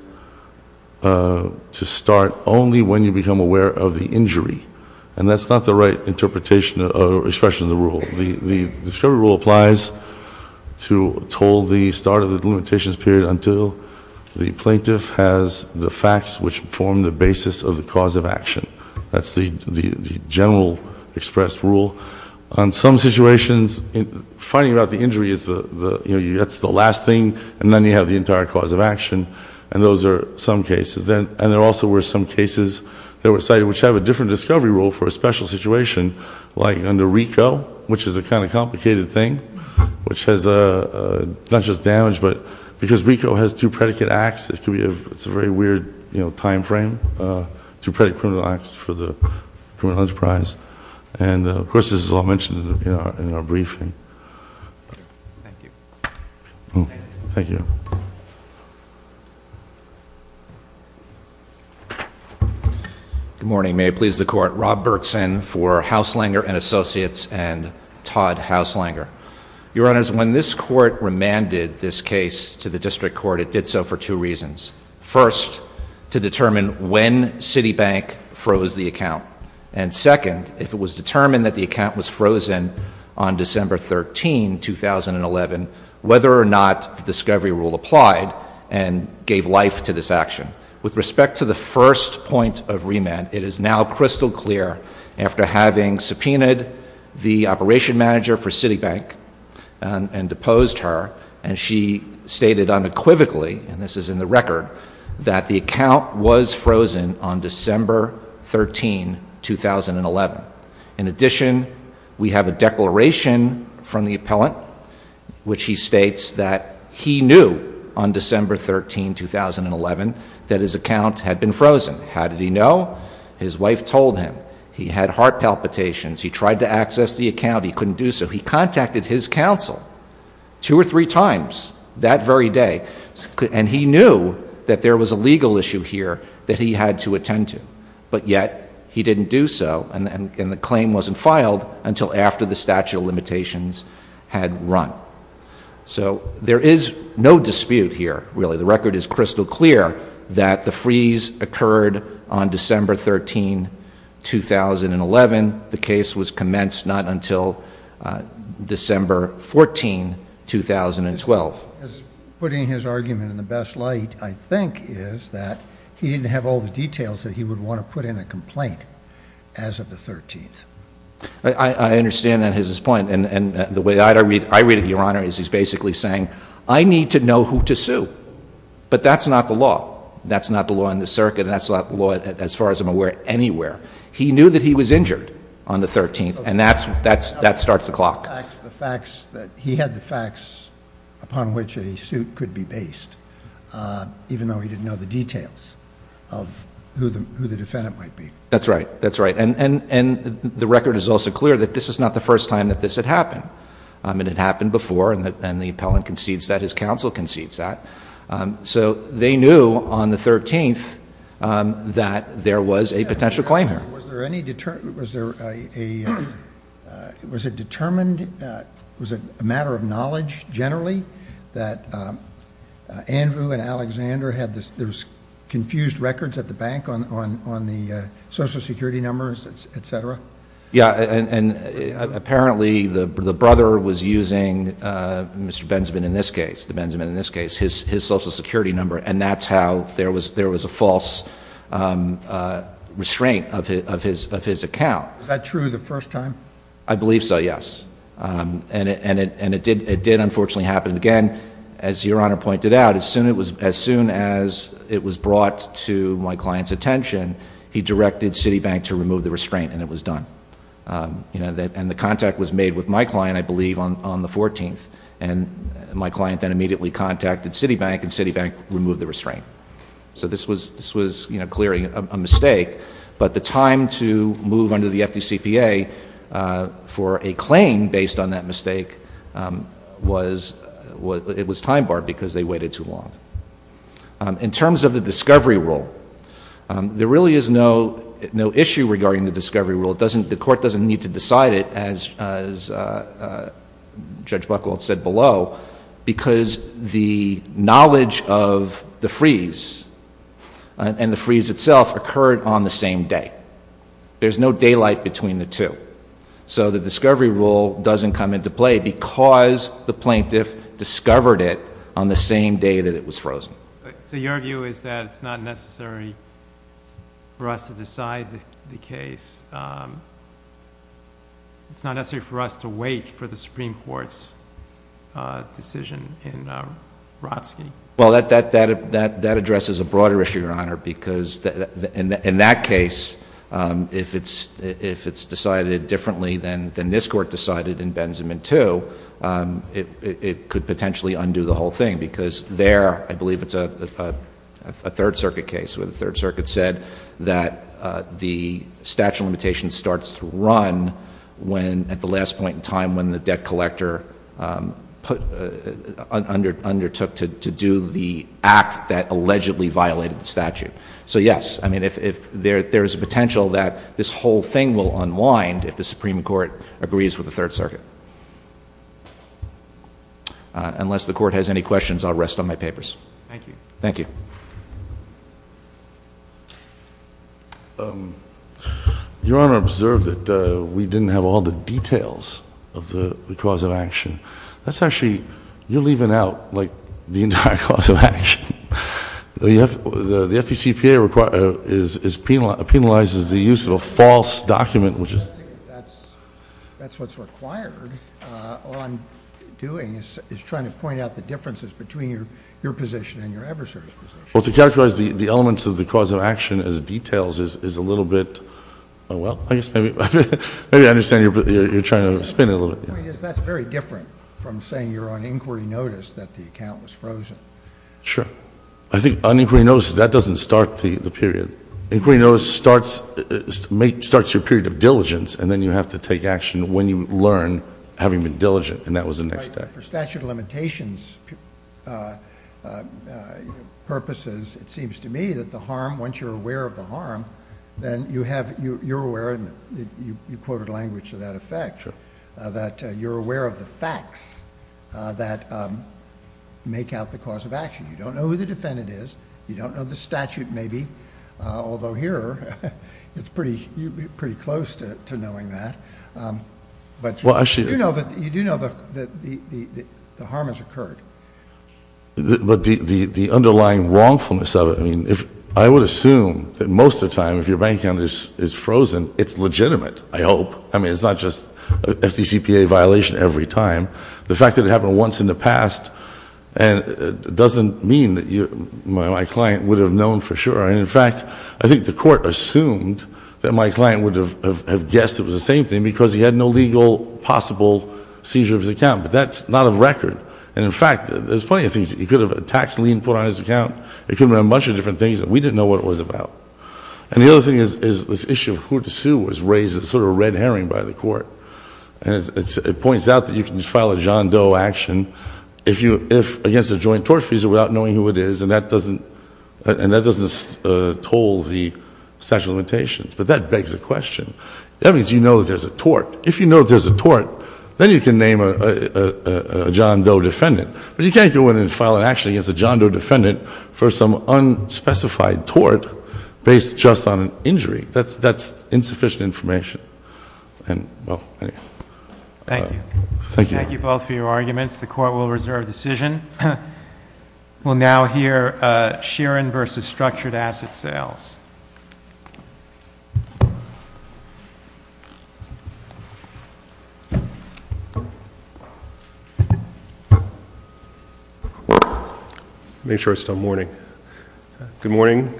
to start only when you become aware of the injury. And that's not the right interpretation or expression of the rule. The discovery rule applies to hold the start of the limitations period until the plaintiff has the facts which form the basis of the cause of action. That's the general express rule. On some situations, finding out the injury is the—you know, you get to the last thing, and then you have the entire cause of action, and those are some cases. And there also were some cases that were cited which have a different discovery rule for a special situation, like under RICO, which is a kind of complicated thing, which has not just damage, but because RICO has two predicate acts, it's a very weird, you know, time frame, two predicate criminal acts for the criminal enterprise. And, of course, this is all mentioned in our briefing. Thank you. Good morning. May it please the Court. Rob Berkson for Hauslanger & Associates and Todd Hauslanger. Your Honors, when this Court remanded this case to the District Court, it did so for two reasons. First, to determine when Citibank froze the account. And second, if it was determined that the account was frozen on December 13, 2011, whether or not the discovery rule applied and gave life to this action. With respect to the first point of remand, it is now crystal clear, after having subpoenaed the operation manager for Citibank and deposed her, and she stated unequivocally, and this is in the record, that the account was frozen on December 13, 2011. In addition, we have a declaration from the appellant, which he states that he knew on December 13, 2011, that his account had been frozen. How did he know? His wife told him. He had heart palpitations. He tried to access the account. He couldn't do so. He contacted his counsel two or three times that very day, and he knew that there was a legal issue here that he had to attend to. But yet he didn't do so, and the claim wasn't filed until after the statute of limitations had run. So there is no dispute here, really. The record is crystal clear that the freeze occurred on December 13, 2011. The case was commenced not until December 14, 2012. Putting his argument in the best light, I think, is that he didn't have all the details that he would want to put in a complaint as of the 13th. I understand that is his point, and the way I read it, Your Honor, is he's basically saying, I need to know who to sue, but that's not the law. That's not the law in the circuit, and that's not the law, as far as I'm aware, anywhere. He knew that he was injured on the 13th, and that starts the clock. He had the facts upon which a suit could be based, even though he didn't know the details of who the defendant might be. That's right. That's right. And the record is also clear that this is not the first time that this had happened. It had happened before, and the appellant concedes that. His counsel concedes that. So they knew on the 13th that there was a potential claimant. Was there a matter of knowledge, generally, that Andrew and Alexander had these confused records at the bank on the Social Security numbers, etc.? Yeah, and apparently the brother was using Mr. Benjamin in this case, his Social Security number, and that's how there was a false restraint of his account. Is that true the first time? I believe so, yes. And it did, unfortunately, happen again. As Your Honor pointed out, as soon as it was brought to my client's attention, he directed Citibank to remove the restraint, and it was done. And the contact was made with my client, I believe, on the 14th. And my client then immediately contacted Citibank, and Citibank removed the restraint. So this was, you know, clearly a mistake. But the time to move under the FDCPA for a claim based on that mistake was time barred because they waited too long. In terms of the discovery rule, there really is no issue regarding the discovery rule. The court doesn't need to decide it, as Judge Buckle said below, because the knowledge of the freeze and the freeze itself occurred on the same day. There's no daylight between the two. So the discovery rule doesn't come into play because the plaintiff discovered it on the same day that it was frozen. So your view is that it's not necessary for us to decide the case? It's not necessary for us to wait for the Supreme Court's decision in Brodsky? Well, that addresses a broader issue, Your Honor, because in that case, if it's decided differently than this Court decided in Benjamin II, it could potentially undo the whole thing because there, I believe it's a Third Circuit case where the Third Circuit said that the statute of limitations starts to run at the last point in time when the debt collector undertook to do the act that allegedly violated the statute. So yes, I mean, there is a potential that this whole thing will unwind if the Supreme Court agrees with the Third Circuit. Unless the Court has any questions, I'll rest on my papers. Thank you. Thank you. Your Honor observed that we didn't have all the details of the cause of action. That's actually, you're leaving out, like, the entire cause of action. The FPCPA penalizes the use of a false document, which is — That's what's required on doing — it's trying to point out the differences between your position and your adversary's position. Well, to characterize the elements of the cause of action as details is a little bit — well, I guess maybe I understand you're trying to spin it a little bit. I mean, that's very different from saying you're on inquiry notice that the account was frozen. Sure. I think on inquiry notice, that doesn't start the period. Inquiry notice starts your period of diligence, and then you have to take action when you learn having been diligent, and that was the next step. For statute of limitations purposes, it seems to me that the harm, once you're aware of the harm, then you have — you're aware, and you quoted language to that effect — Sure. — that you're aware of the facts that make out the cause of action. You don't know who the defendant is. You don't know the statute, maybe, although here it's pretty close to knowing that. But you do know that the harm has occurred. But the underlying wrongfulness of it — I mean, I would assume that most of the time, if your bank account is frozen, it's legitimate, I hope. I mean, it's not just an FDCPA violation every time. The fact that it happened once in the past doesn't mean that my client would have known for sure. And, in fact, I think the court assumed that my client would have guessed it was the same thing because he had no legal possible seizure of his account. But that's not a record. And, in fact, there's plenty of things. He could have a tax lien put on his account. It could have been a bunch of different things that we didn't know what it was about. And the other thing is this issue of who to sue was raised as sort of a red herring by the court. It points out that you can file a John Doe action against a joint tort fee without knowing who it is, and that doesn't toll the statute of limitations. But that begs the question. That means you know there's a tort. If you know there's a tort, then you can name a John Doe defendant. But you can't go in and file an action against a John Doe defendant for some unspecified tort based just on an injury. That's insufficient information. Thank you. Thank you both for your arguments. The court will reserve decision. We'll now hear Sheeran versus Structured Asset Sales. Make sure it's still morning. Good morning.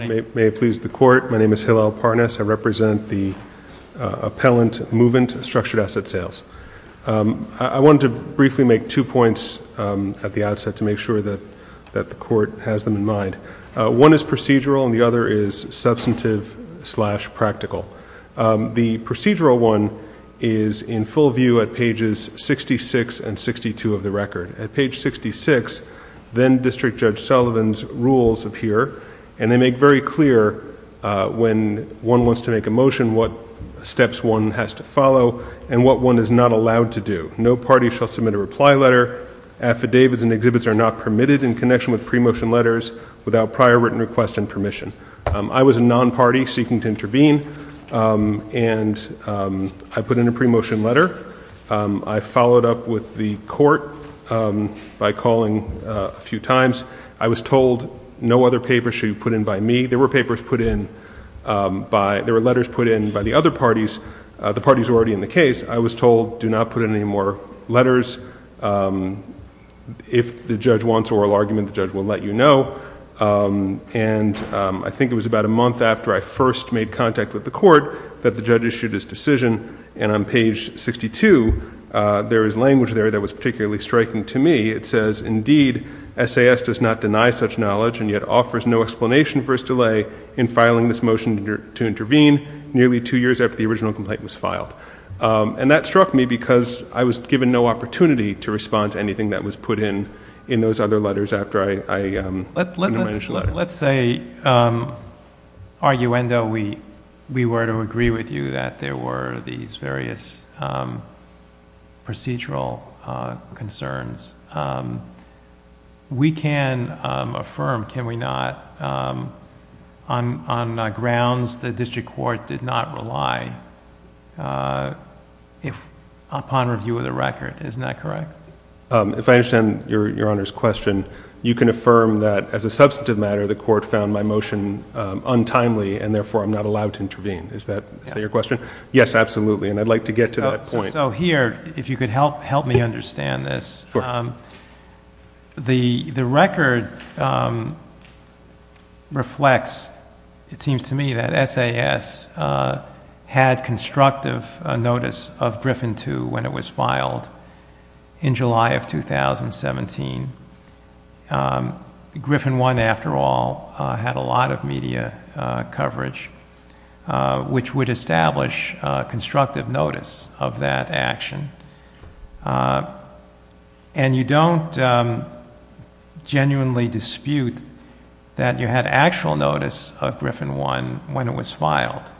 May it please the court. My name is Hillel Parness. I represent the Appellant Movement Structured Asset Sales. I wanted to briefly make two points at the outset to make sure that the court has them in mind. One is procedural, and the other is substantive slash practical. The procedural one is in full view at pages 66 and 62 of the record. At page 66, then District Judge Sullivan's rules appear, and they make very clear when one wants to make a motion what steps one has to follow and what one is not allowed to do. No party shall submit a reply letter. Affidavits and exhibits are not permitted in connection with pre-motion letters without prior written request and permission. I was a non-party seeking to intervene, and I put in a pre-motion letter. I followed up with the court by calling a few times. I was told no other papers should be put in by me. There were papers put in by — there were letters put in by the other parties. The parties were already in the case. I was told do not put in any more letters. If the judge wants an oral argument, the judge will let you know. And I think it was about a month after I first made contact with the court that the judge issued his decision. And on page 62, there is language there that was particularly striking to me. It says, indeed, SAS does not deny such knowledge and yet offers no explanation for its delay in filing this motion to intervene nearly two years after the original complaint was filed. And that struck me because I was given no opportunity to respond to anything that was put in in those other letters after I — Let's say, arguendo, we were to agree with you that there were these various procedural concerns. We can affirm, can we not, on grounds the district court did not rely upon review of the record. Isn't that correct? If I understand Your Honor's question, you can affirm that as a substantive matter, the court found my motion untimely and therefore I'm not allowed to intervene. Is that your question? Yes, absolutely. And I'd like to get to that point. So here, if you could help me understand this, the record reflects, it seems to me, that SAS had constructive notice of Griffin II when it was filed in July of 2017. Griffin I, after all, had a lot of media coverage, which would establish constructive notice of that action. And you don't genuinely dispute that you had actual notice of Griffin I when it was filed.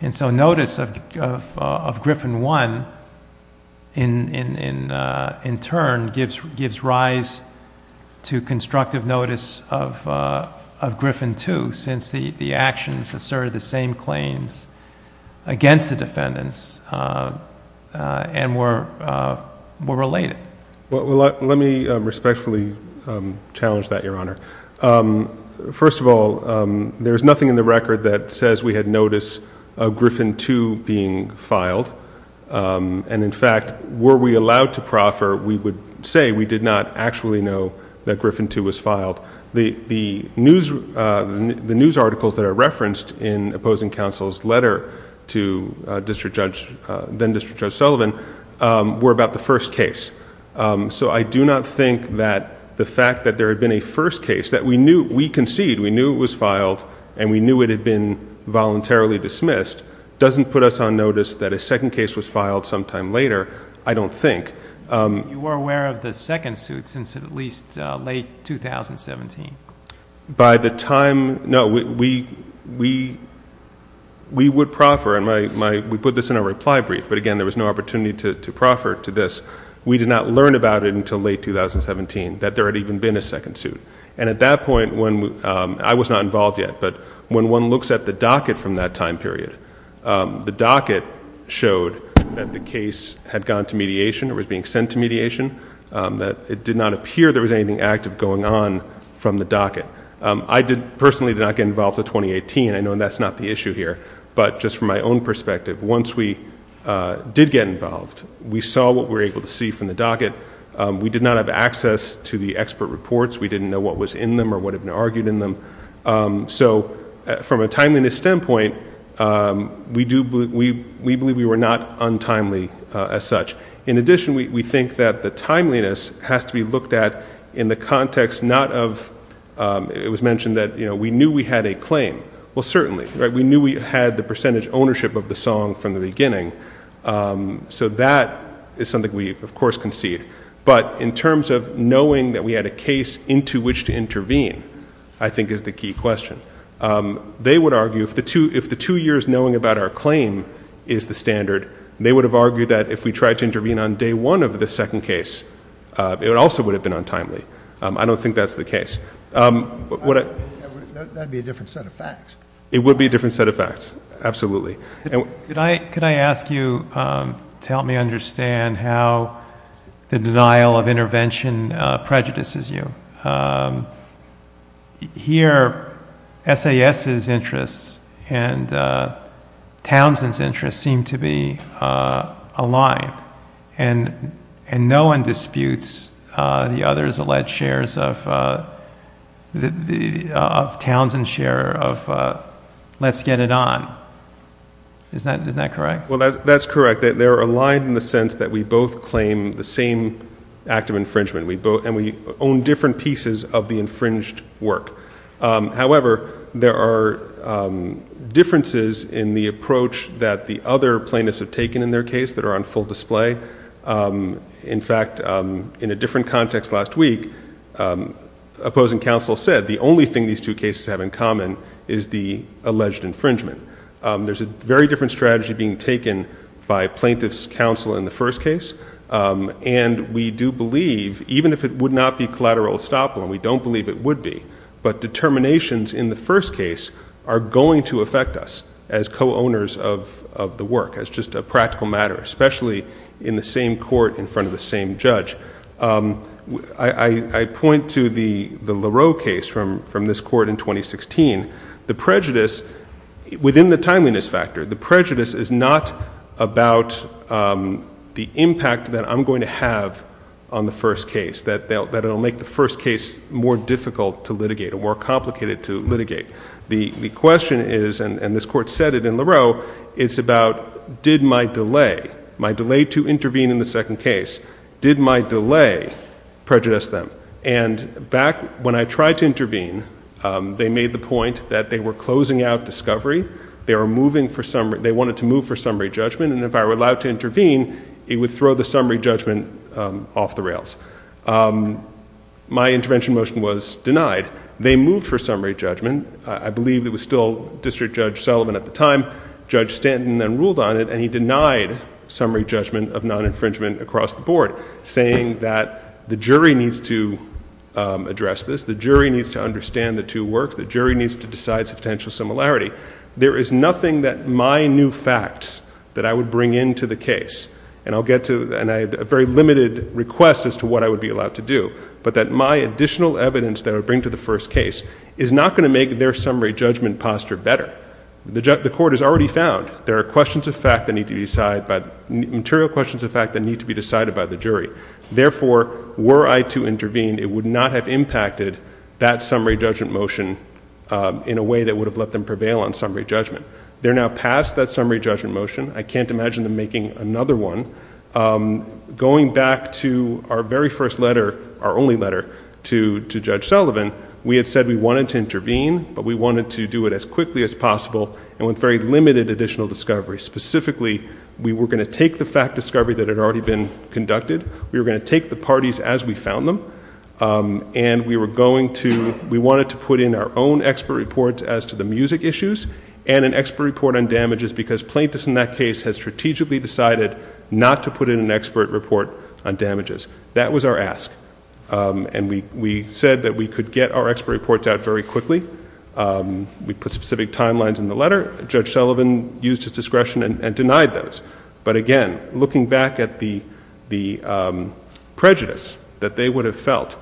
And so notice of Griffin I, in turn, gives rise to constructive notice of Griffin II since the actions asserted the same claims against the defendants and were related. Well, let me respectfully challenge that, Your Honor. First of all, there's nothing in the record that says we had notice of Griffin II being filed. And in fact, were we allowed to proffer, we would say we did not actually know that Griffin II was filed. The news articles that are referenced in opposing counsel's letter to then-District Judge Sullivan were about the first case. So I do not think that the fact that there had been a first case that we knew, we conceded, we knew it was filed, and we knew it had been voluntarily dismissed, doesn't put us on notice that a second case was filed sometime later, I don't think. You were aware of the second suit since at least late 2017. By the time, no, we would proffer, and we put this in a reply brief, but again, there was no opportunity to proffer to this. We did not learn about it until late 2017, that there had even been a second suit. And at that point, I was not involved yet, but when one looks at the docket from that time period, the docket showed that the case had gone to mediation or was being sent to mediation, that it did not appear there was anything active going on from the docket. I personally did not get involved until 2018. I know that's not the issue here, but just from my own perspective, once we did get involved, we saw what we were able to see from the docket. We did not have access to the expert reports. We didn't know what was in them or what had been argued in them. So from a timeliness standpoint, we believe we were not untimely as such. In addition, we think that the timeliness has to be looked at in the context not of, it was mentioned that we knew we had a claim. Well, certainly, we knew we had the percentage ownership of the song from the beginning. So that is something we, of course, concede. But in terms of knowing that we had a case into which to intervene, I think is the key question. They would argue, if the two years knowing about our claim is the standard, they would have argued that if we tried to intervene on day one of the second case, it also would have been untimely. I don't think that's the case. That would be a different set of facts. It would be a different set of facts, absolutely. Could I ask you to help me understand how the denial of intervention prejudices you? Here, SAS's interests and Townsend's interests seem to be aligned. And no one disputes the others alleged shares of Townsend's share of Let's Get It On. Isn't that correct? Well, that's correct. They're aligned in the sense that we both claim the same act of infringement. And we own different pieces of the infringed work. However, there are differences in the approach that the other plaintiffs have taken in their case that are on full display. In fact, in a different context last week, opposing counsel said the only thing these two cases have in common is the alleged infringement. There's a very different strategy being taken by plaintiff's counsel in the first case. And we do believe, even if it would not be collateral estoppel, and we don't believe it would be, but determinations in the first case are going to affect us as co-owners of the work, as just a practical matter, especially in the same court in front of the same judge. I point to the Lareau case from this court in 2016. The prejudice, within the timeliness factor, the prejudice is not about the impact that I'm going to have on the first case, that it will make the first case more difficult to litigate or more complicated to litigate. The question is, and this court said it in Lareau, it's about did my delay, my delay to intervene in the second case, did my delay prejudice them? And back when I tried to intervene, they made the point that they were closing out discovery, they were moving for summary, they wanted to move for summary judgment, and if I were allowed to intervene, it would throw the summary judgment off the rails. My intervention motion was denied. They moved for summary judgment. I believe it was still District Judge Sullivan at the time. Judge Stanton then ruled on it, and he denied summary judgment of non-infringement across the board, saying that the jury needs to address this, the jury needs to understand the two works, the jury needs to decide substantial similarity. There is nothing that my new facts that I would bring into the case, and I'll get to a very limited request as to what I would be allowed to do, but that my additional evidence that I would bring to the first case is not going to make their summary judgment posture better. The court has already found there are questions of fact that need to be decided, but material questions of fact that need to be decided by the jury. Therefore, were I to intervene, it would not have impacted that summary judgment motion in a way that would have let them prevail on summary judgment. They're now past that summary judgment motion. I can't imagine them making another one. Going back to our very first letter, our only letter to Judge Sullivan, we had said we wanted to intervene, but we wanted to do it as quickly as possible, and with very limited additional discovery. Specifically, we were going to take the fact discovery that had already been conducted, we were going to take the parties as we found them, and we were going to, we wanted to put in our own expert reports as to the music issues, and an expert report on damages, because plaintiffs in that case had strategically decided not to put in an expert report on damages. That was our ask. And we said that we could get our expert reports out very quickly. We put specific timelines in the letter. Judge Sullivan used his discretion and denied those. But again, looking back at the prejudice that they would have felt,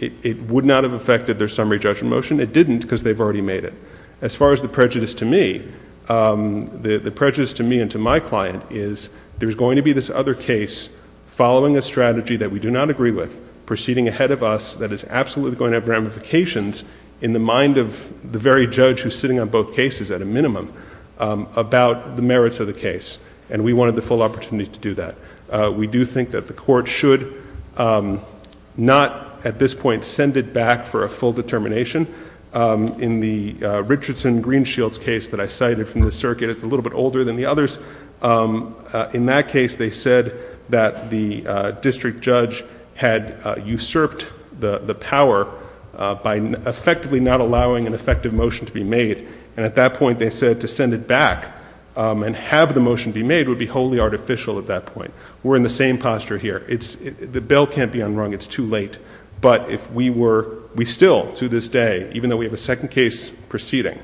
it would not have affected their summary judgment motion. It didn't, because they've already made it. As far as the prejudice to me, the prejudice to me and to my client is there's going to be this other case following a strategy that we do not agree with, proceeding ahead of us, that is absolutely going to have ramifications in the mind of the very judge who's sitting on both cases, at a minimum, about the merits of the case. And we wanted the full opportunity to do that. We do think that the court should not at this point send it back for a full determination. In the Richardson-Greenshields case that I cited from the circuit, it's a little bit older than the others. In that case, they said that the district judge had usurped the power by effectively not allowing an effective motion to be made. And at that point, they said to send it back and have the motion be made would be wholly artificial at that point. We're in the same posture here. The bell can't be unrung. It's too late. But if we were, we still, to this day, even though we have a second case proceeding,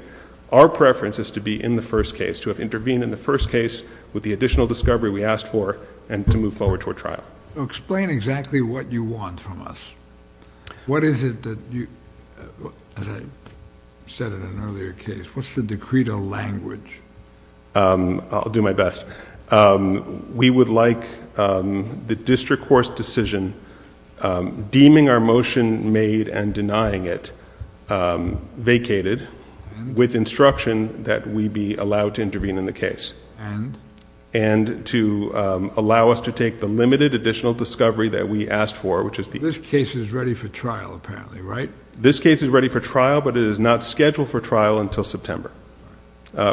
our preference is to be in the first case, to have intervened in the first case with the additional discovery we asked for and to move forward to a trial. So explain exactly what you want from us. What is it that you, as I said in an earlier case, what's the decreto language? I'll do my best. We would like the district court's decision deeming our motion made and denying it vacated with instruction that we be allowed to intervene in the case. And? And to allow us to take the limited additional discovery that we asked for, which is the case is ready for trial apparently, right? This case is ready for trial, but it is not scheduled for trial until September.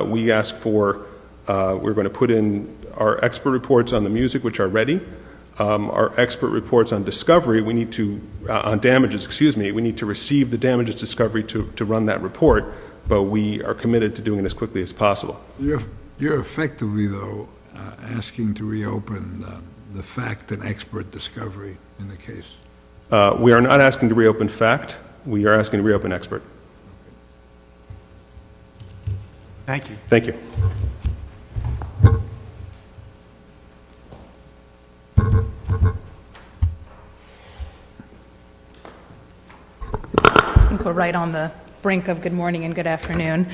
We ask for, we're going to put in our expert reports on the music, which are ready. Our expert reports on discovery, we need to, on damages, excuse me, we need to receive the damages discovery to run that report. But we are committed to doing it as quickly as possible. You're effectively, though, asking to reopen the fact and expert discovery in the case. We are not asking to reopen fact. We are asking to reopen expert. Thank you. Thank you. We're right on the brink of good morning and good afternoon.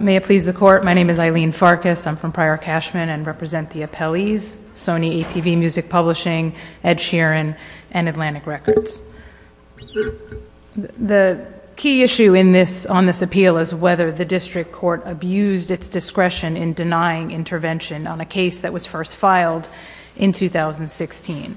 May it please the court. My name is Eileen Sarkis. I'm from Prior Cashman and represent the appellees. Sony ACV Music Publishing, Ed Sheeran, and Atlantic Records. The key issue on this appeal is whether the district court abused its discretion in denying intervention on a case that was first filed in 2016.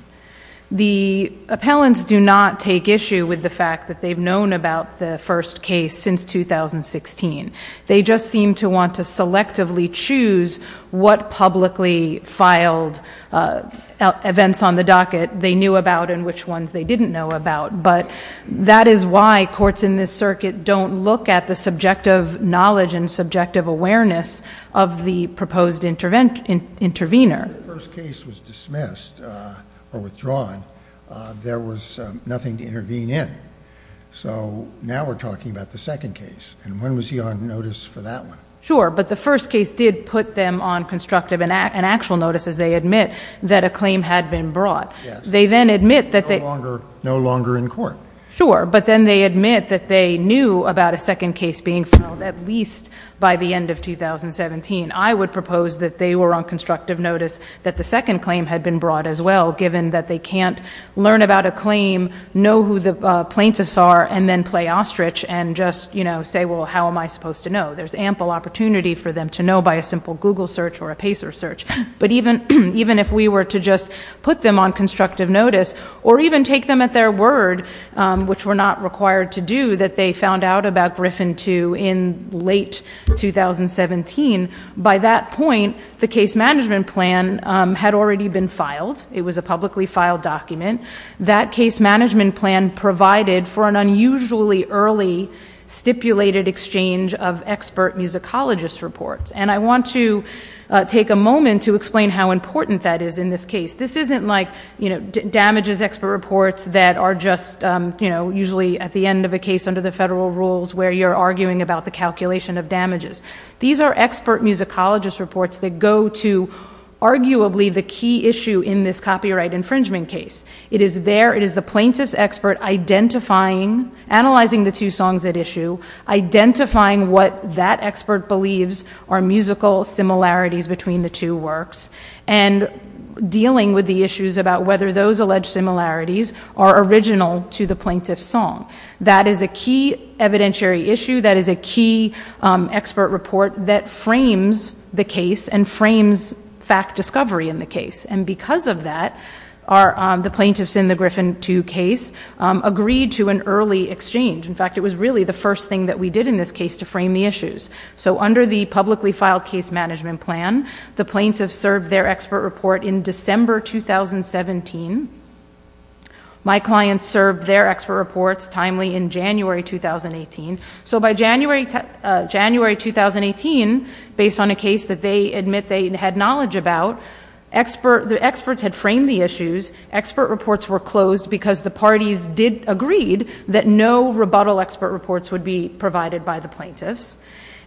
The appellants do not take issue with the fact that they've known about the first case since 2016. They just seem to want to selectively choose what publicly filed events on the docket they knew about and which ones they didn't know about. But that is why courts in this circuit don't look at the subjective knowledge and subjective awareness of the proposed intervener. When the first case was dismissed or withdrawn, there was nothing to intervene in. So now we're talking about the second case. And when was he on notice for that one? Sure, but the first case did put them on constructive and actual notice as they admit that a claim had been brought. They then admit that they... No longer in court. Sure, but then they admit that they knew about a second case being filed at least by the end of 2017. I would propose that they were on constructive notice that the second claim had been brought as well given that they can't learn about a claim, know who the plaintiffs are, and then play ostrich and just say, well, how am I supposed to know? There's ample opportunity for them to know by a simple Google search or a Pacer search. But even if we were to just put them on constructive notice or even take them at their word, which we're not required to do, that they found out about Griffin II in late 2017, by that point the case management plan had already been filed. It was a publicly filed document. That case management plan provided for an unusually early stipulated exchange of expert musicologist reports. And I want to take a moment to explain how important that is in this case. This isn't like, you know, damages expert reports that are just, you know, usually at the end of a case under the federal rules where you're arguing about the calculation of damages. These are expert musicologist reports that go to arguably the key issue in this copyright infringement case. It is there, it is the plaintiff's expert identifying, analyzing the two songs at issue, identifying what that expert believes are musical similarities between the two works, and dealing with the issues about whether those alleged similarities are original to the plaintiff's song. That is a key evidentiary issue. That is a key expert report that frames the case and frames fact discovery in the case. And because of that, the plaintiffs in the Griffin 2 case agreed to an early exchange. In fact, it was really the first thing that we did in this case to frame the issues. So under the publicly filed case management plan, the plaintiffs served their expert report in December 2017. My clients served their expert reports timely in January 2018. So by January 2018, based on a case that they admit that they had knowledge about, the experts had framed the issues, expert reports were closed because the parties did agree that no rebuttal expert reports would be provided by the plaintiffs.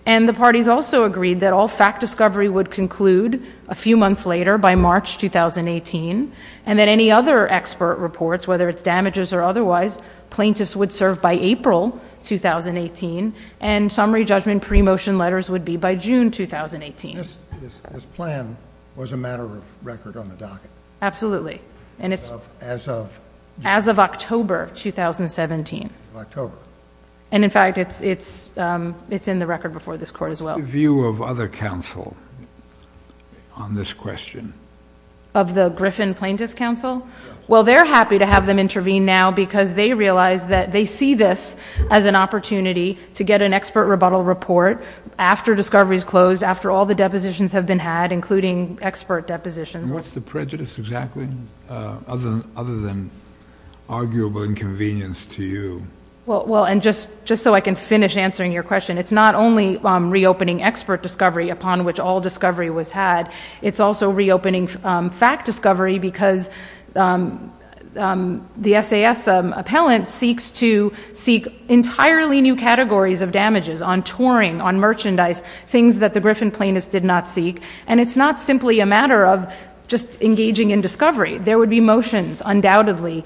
And the parties also agreed that all fact discovery would conclude a few months later by March 2018, and that any other expert reports, whether it's damages or otherwise, plaintiffs would serve by April 2018, and summary judgment pre-motion letters would be by June 2018. This plan was a matter of record on the docket? Absolutely. As of? As of October 2017. October. And in fact, it's in the record before this Court as well. What's the view of other counsel on this question? Of the Griffin Plaintiffs' Counsel? Well, they're happy to have them intervene now because they realize that they see this as an opportunity to get an expert rebuttal report after discovery is closed, after all the depositions have been had, including expert depositions. And what's the prejudice exactly, other than arguable inconvenience to you? Well, and just so I can finish answering your question, it's not only reopening expert discovery upon which all discovery was had, it's also reopening fact discovery because the SAS appellant seeks to seek entirely new categories of damages on touring, on merchandise, things that the Griffin Plaintiffs did not seek. And it's not simply a matter of just engaging in discovery. There would be motions undoubtedly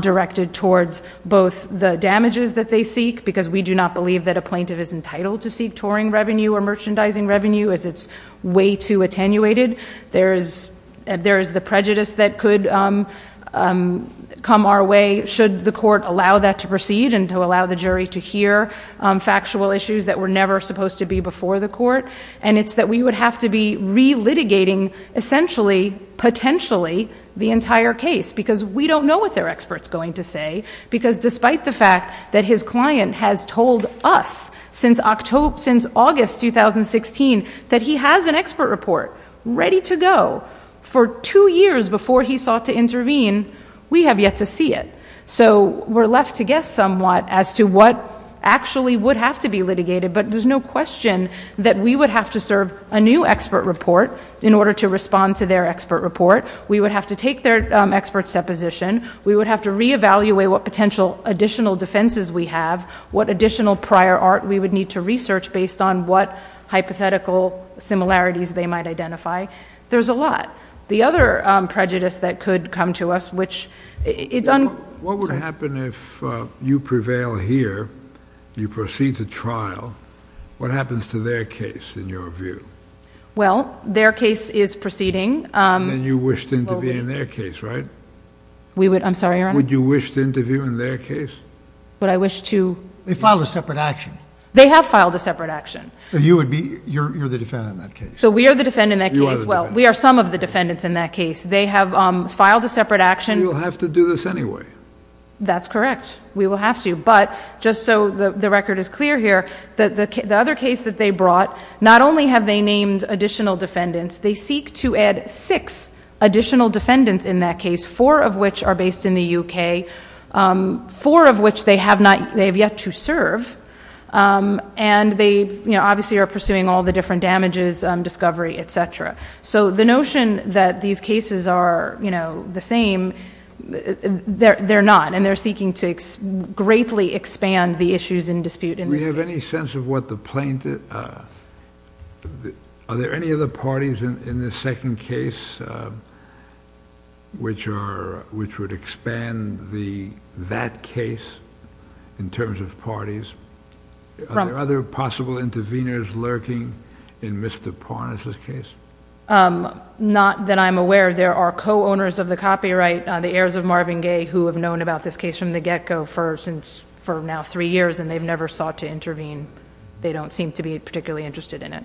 directed towards both the damages that they seek, because we do not believe that a plaintiff is entitled to seek touring revenue or merchandising revenue if it's way too attenuated. There is the prejudice that could come our way should the Court allow that to proceed and to allow the jury to hear factual issues that were never supposed to be before the Court. And it's that we would have to be re-litigating essentially, potentially, the entire case, because we don't know what their expert's going to say, because despite the fact that his client has told us since August 2016 that he has an expert report ready to go for two years before he sought to intervene, we have yet to see it. So we're left to guess somewhat as to what actually would have to be litigated, but there's no question that we would have to serve a new expert report in order to respond to their expert report. We would have to take their expert's deposition. We would have to re-evaluate what potential additional defenses we have, what additional prior art we would need to research based on what hypothetical similarities they might identify. There's a lot. The other prejudice that could come to us, which is... What would happen if you prevail here, you proceed to trial, what happens to their case in your view? Well, their case is proceeding. And you wished them to be in their case, right? I'm sorry, Your Honor? Would you wish them to be in their case? Would I wish to... They filed a separate action. They have filed a separate action. And you're the defendant in that case. They have filed a separate action. We will have to do this anyway. That's correct. We will have to. But just so the record is clear here, the other case that they brought, not only have they named additional defendants, they seek to add six additional defendants in that case, four of which are based in the UK, four of which they have yet to serve, and they obviously are pursuing all the different damages, discovery, et cetera. So the notion that these cases are the same, they're not, and they're seeking to greatly expand the issues in dispute. Do we have any sense of what the plaintiff... Are there any other parties in the second case which would expand that case in terms of parties? Are there other possible interveners lurking in Mr. Parnas' case? Not that I'm aware of. There are co-owners of the copyright, the heirs of Marvin Gaye, who have known about this case from the get-go for now three years, and they've never sought to intervene. They don't seem to be particularly interested in it.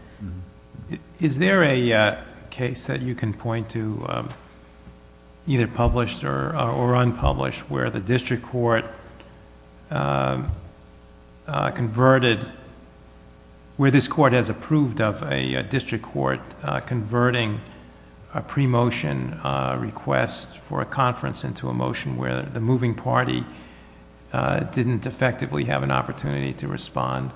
Is there a case that you can point to, either published or unpublished, where the district court converted, where this court has approved of a district court converting a pre-motion request for a conference into a motion where the moving party didn't effectively have an opportunity to respond?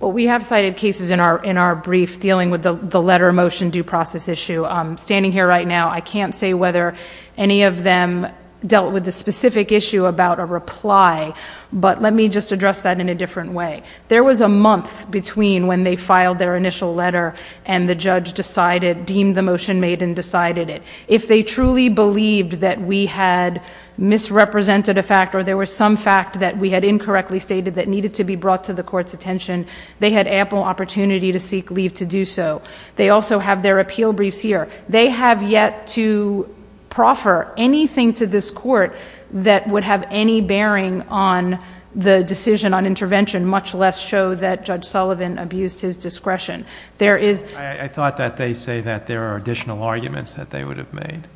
Well, we have cited cases in our brief dealing with the letter motion due process issue. Standing here right now, I can't say whether any of them dealt with the specific issue about a reply, but let me just address that in a different way. There was a month between when they filed their initial letter and the judge decided, deemed the motion made and decided it. If they truly believed that we had misrepresented a fact or there was some fact that we had incorrectly stated that needed to be brought to the court's attention, they had ample opportunity to seek leave to do so. They also have their appeal brief here. They have yet to proffer anything to this court that would have any bearing on the decision on intervention, much less show that Judge Sullivan abused his discretion. I thought that they say that there are additional arguments that they would have made.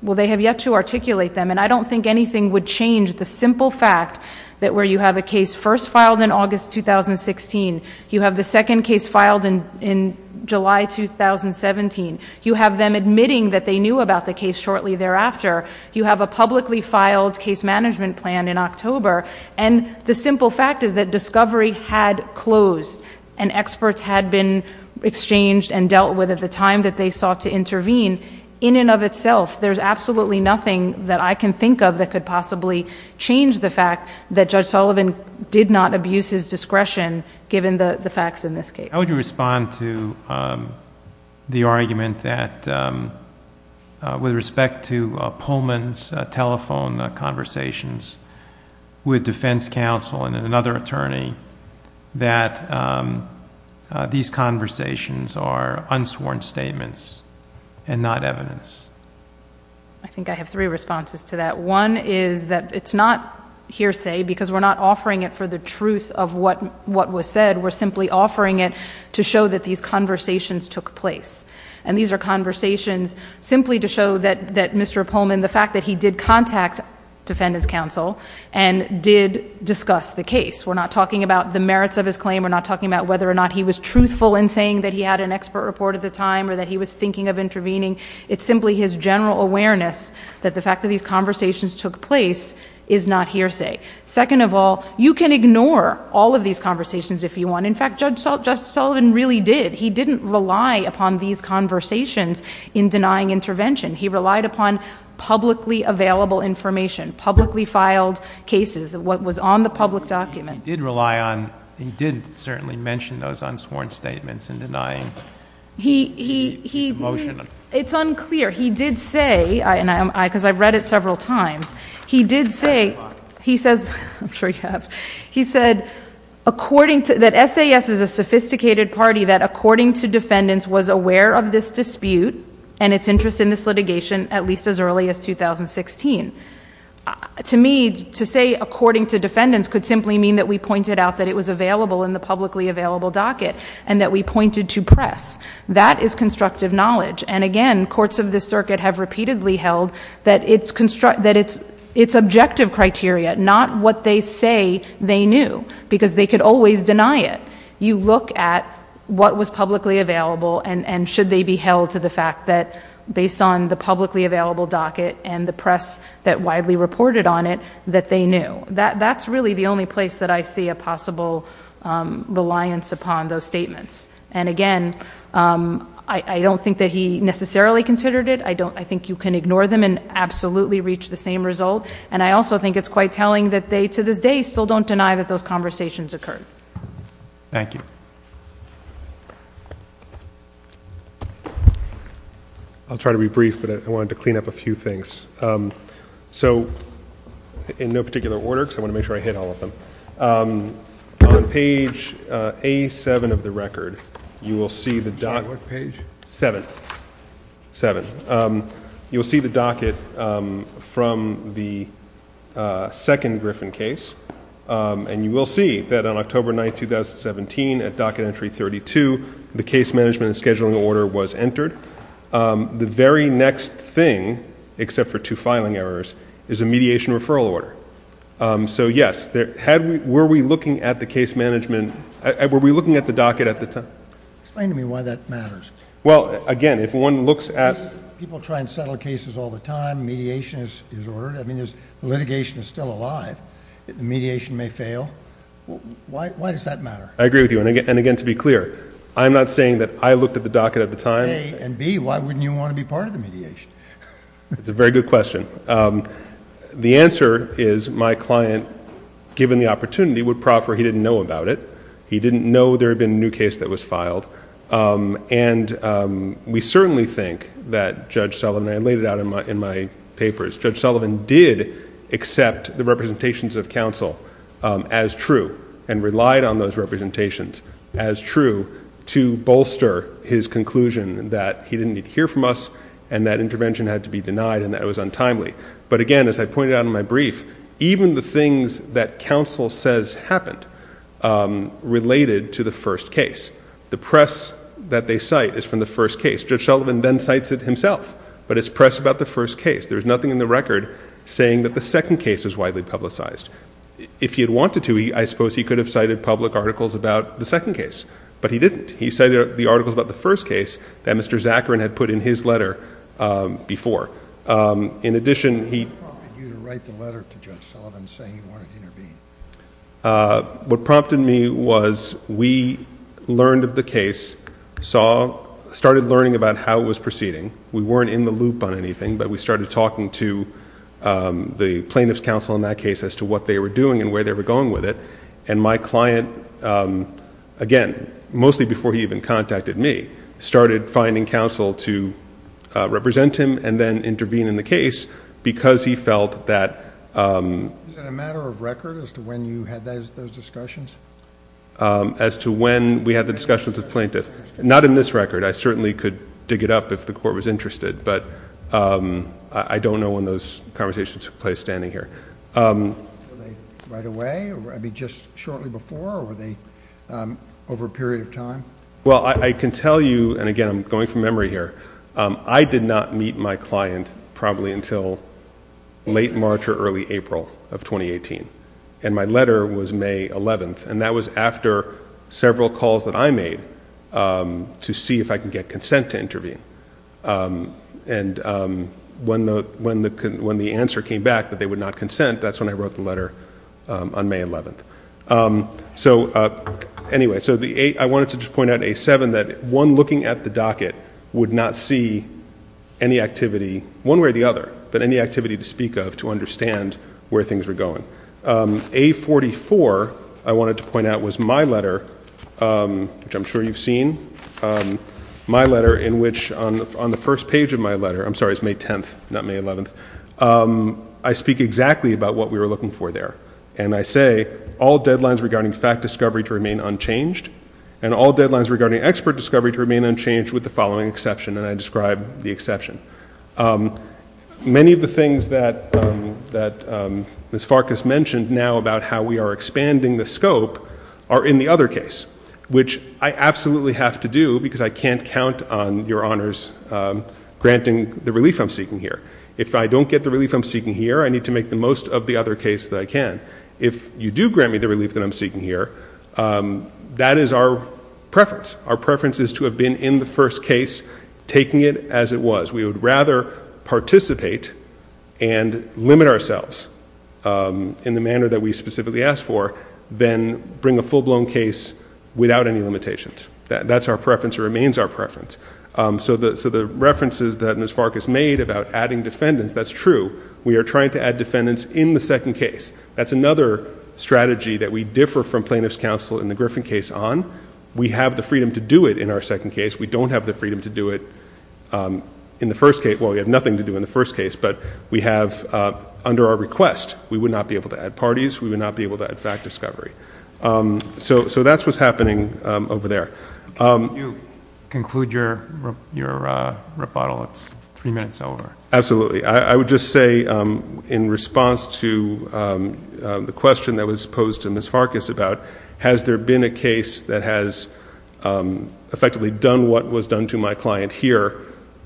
Well, they have yet to articulate them, and I don't think anything would change the simple fact that where you have a case first filed in August 2016, you have the second case filed in July 2017, you have them admitting that they knew about the case shortly thereafter, you have a publicly filed case management plan in October, and the simple fact is that discovery had closed and experts had been exchanged and dealt with at the time that they sought to intervene, in and of itself, there's absolutely nothing that I can think of that could possibly change the fact that Judge Sullivan did not abuse his discretion, given the facts in this case. I would respond to the argument that, with respect to Pullman's telephone conversations with defense counsel and another attorney, that these conversations are unsworn statements and not evidence. I think I have three responses to that. One is that it's not hearsay, because we're not offering it for the truth of what was said, we're simply offering it to show that these conversations took place, and these are conversations simply to show that Mr. Pullman, the fact that he did contact defendant's counsel and did discuss the case, we're not talking about the merits of his claim, we're not talking about whether or not he was truthful in saying that he had an expert report at the time or that he was thinking of intervening, it's simply his general awareness that the fact that these conversations took place is not hearsay. Second of all, you can ignore all of these conversations if you want. In fact, Judge Sullivan really did. He didn't rely upon these conversations in denying intervention. He relied upon publicly available information, publicly filed cases, what was on the public document. He did rely on, he did certainly mention those unsworn statements in denying the motion. It's unclear. He did say, because I've read it several times, he did say, he said, I'm sure you have, he said that SAS is a sophisticated party that according to defendants was aware of this dispute and its interest in this litigation at least as early as 2016. To me, to say according to defendants could simply mean that we pointed out that it was available in the publicly available docket and that we pointed to press. That is constructive knowledge. And again, courts of this circuit have repeatedly held that it's objective criteria, not what they say they knew because they could always deny it. You look at what was publicly available and should they be held to the fact that based on the publicly available docket that widely reported on it, that they knew. That's really the only place that I see a possible reliance upon those statements. And again, I don't think that he necessarily considered it. I think you can ignore them and absolutely reach the same result. And I also think it's quite telling that they to this day still don't deny that those conversations occurred. Thank you. I'll try to be brief, but I wanted to clean up a few things. So in no particular order, because I want to make sure I hit all of them. On page A7 of the record, you will see the docket. On what page? Seventh. You'll see the docket from the second Griffin case. And you will see that on October 9, 2017, at docket entry 32, the case management and scheduling order was entered. The very next thing, except for two filing errors, is a mediation referral order. So yes, were we looking at the case management, were we looking at the docket at the time? Explain to me why that matters. Well, again, if one looks at... People try and settle cases all the time. Mediation is ordered. I mean, litigation is still alive. Mediation may fail. Why does that matter? I agree with you. And again, to be clear, I'm not saying that I looked at the docket at the time. A and B, why wouldn't you want to be part of the mediation? That's a very good question. The answer is my client, given the opportunity, would proffer he didn't know about it. He didn't know there had been a new case that was filed. And we certainly think that Judge Sullivan, and I laid it out in my papers, Judge Sullivan did accept the representations of counsel to bolster his conclusion that he didn't need to hear from us and that intervention had to be denied and that it was untimely. But again, as I pointed out in my brief, even the things that counsel says happened related to the first case. The press that they cite is from the first case. Judge Sullivan then cites it himself, but it's press about the first case. There's nothing in the record saying that the second case is widely publicized. If he had wanted to, I suppose he could have cited public articles about the second case, but he didn't. He cited the articles about the first case that Mr. Zakarin had put in his letter before. In addition, he... You didn't write the letter to Judge Sullivan saying you wanted to intervene. What prompted me was we learned of the case, started learning about how it was proceeding. We weren't in the loop on anything, but we started talking to the plaintiff's counsel in that case about what they were doing and where they were going with it. And my client, again, mostly before he even contacted me, started finding counsel to represent him and then intervene in the case because he felt that... A matter of record as to when you had those discussions? As to when we had the discussions with the plaintiff. Not in this record. I certainly could dig it up if the court was interested, but I don't know when those conversations happened. Were they right away? I mean, just shortly before? Or were they over a period of time? Well, I can tell you, and again, I'm going from memory here, I did not meet my client probably until late March or early April of 2018. And my letter was May 11th. And that was after several calls that I made to see if I could get consent to intervene. And when the answer came back it was on May 11th. So anyway, I wanted to just point out in A7 that one looking at the docket would not see any activity one way or the other, but any activity to speak of to understand where things were going. A44, I wanted to point out, was my letter, which I'm sure you've seen, my letter in which on the first page of my letter, I'm sorry, it's May 10th, not May 11th, I speak exactly about and I say, all deadlines regarding fact discovery to remain unchanged and all deadlines regarding expert discovery to remain unchanged with the following exception, and I describe the exception. Many of the things that Ms. Farkas mentioned now about how we are expanding the scope are in the other case, which I absolutely have to do because I can't count on your honors granting the relief I'm seeking here. If I don't get the relief I'm seeking here, I need to make the most of the other case that I can. If you do grant me the relief that I'm seeking here, that is our preference. Our preference is to have been in the first case, taking it as it was. We would rather participate and limit ourselves in the manner that we specifically asked for than bring a full-blown case without any limitations. That's our preference and remains our preference. So the references that Ms. Farkas made about adding defendants, that's true. We are trying to add defendants in the second case. That's another strategy that we differ from plaintiff's counsel in the Griffin case on. We have the freedom to do it in our second case. We don't have the freedom to do it in the first case. Well, we have nothing to do in the first case, but we have under our request. We would not be able to add parties. We would not be able to add fact discovery. So that's what's happening over there. Can you conclude your rebuttal? It's three minutes over. Absolutely. I would just say in response to the question that was posed to Ms. Farkas about has there been a case that has effectively done what was done to my client here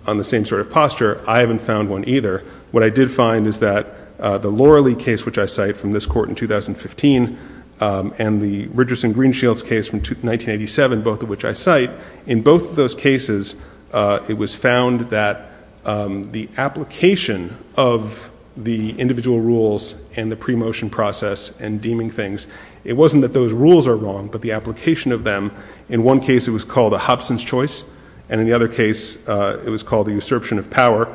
on the same sort of posture, I haven't found one either. What I did find is that the Loralee case, which I cite from this court in 2015, and the Richardson-Greenshields case from 1987, both of which I cite, in both of those cases it was found that the application of the individual rules and the pre-motion process and deeming things, it wasn't that those rules are wrong, but the application of them, in one case it was called a Hobson's choice, and in the other case it was called the usurpation of power.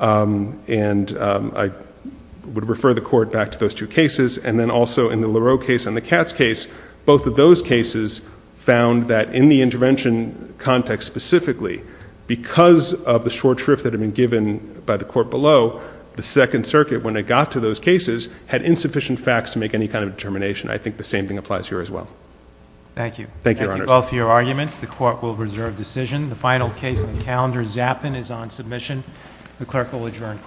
And I would refer the court back to those two cases. And then also in the Liralee case and the Katz case, both of those cases found that in the intervention context specifically, because of the short shrift that had been given by the court below, the Second Circuit, when it got to those cases, had insufficient facts to make any kind of determination. I think the same thing applies here as well. Thank you. Thank you, Your Honor. Thank you both for your arguments. The court will reserve decision. The final case on calendar Zappin is on submission. The clerk will adjourn court.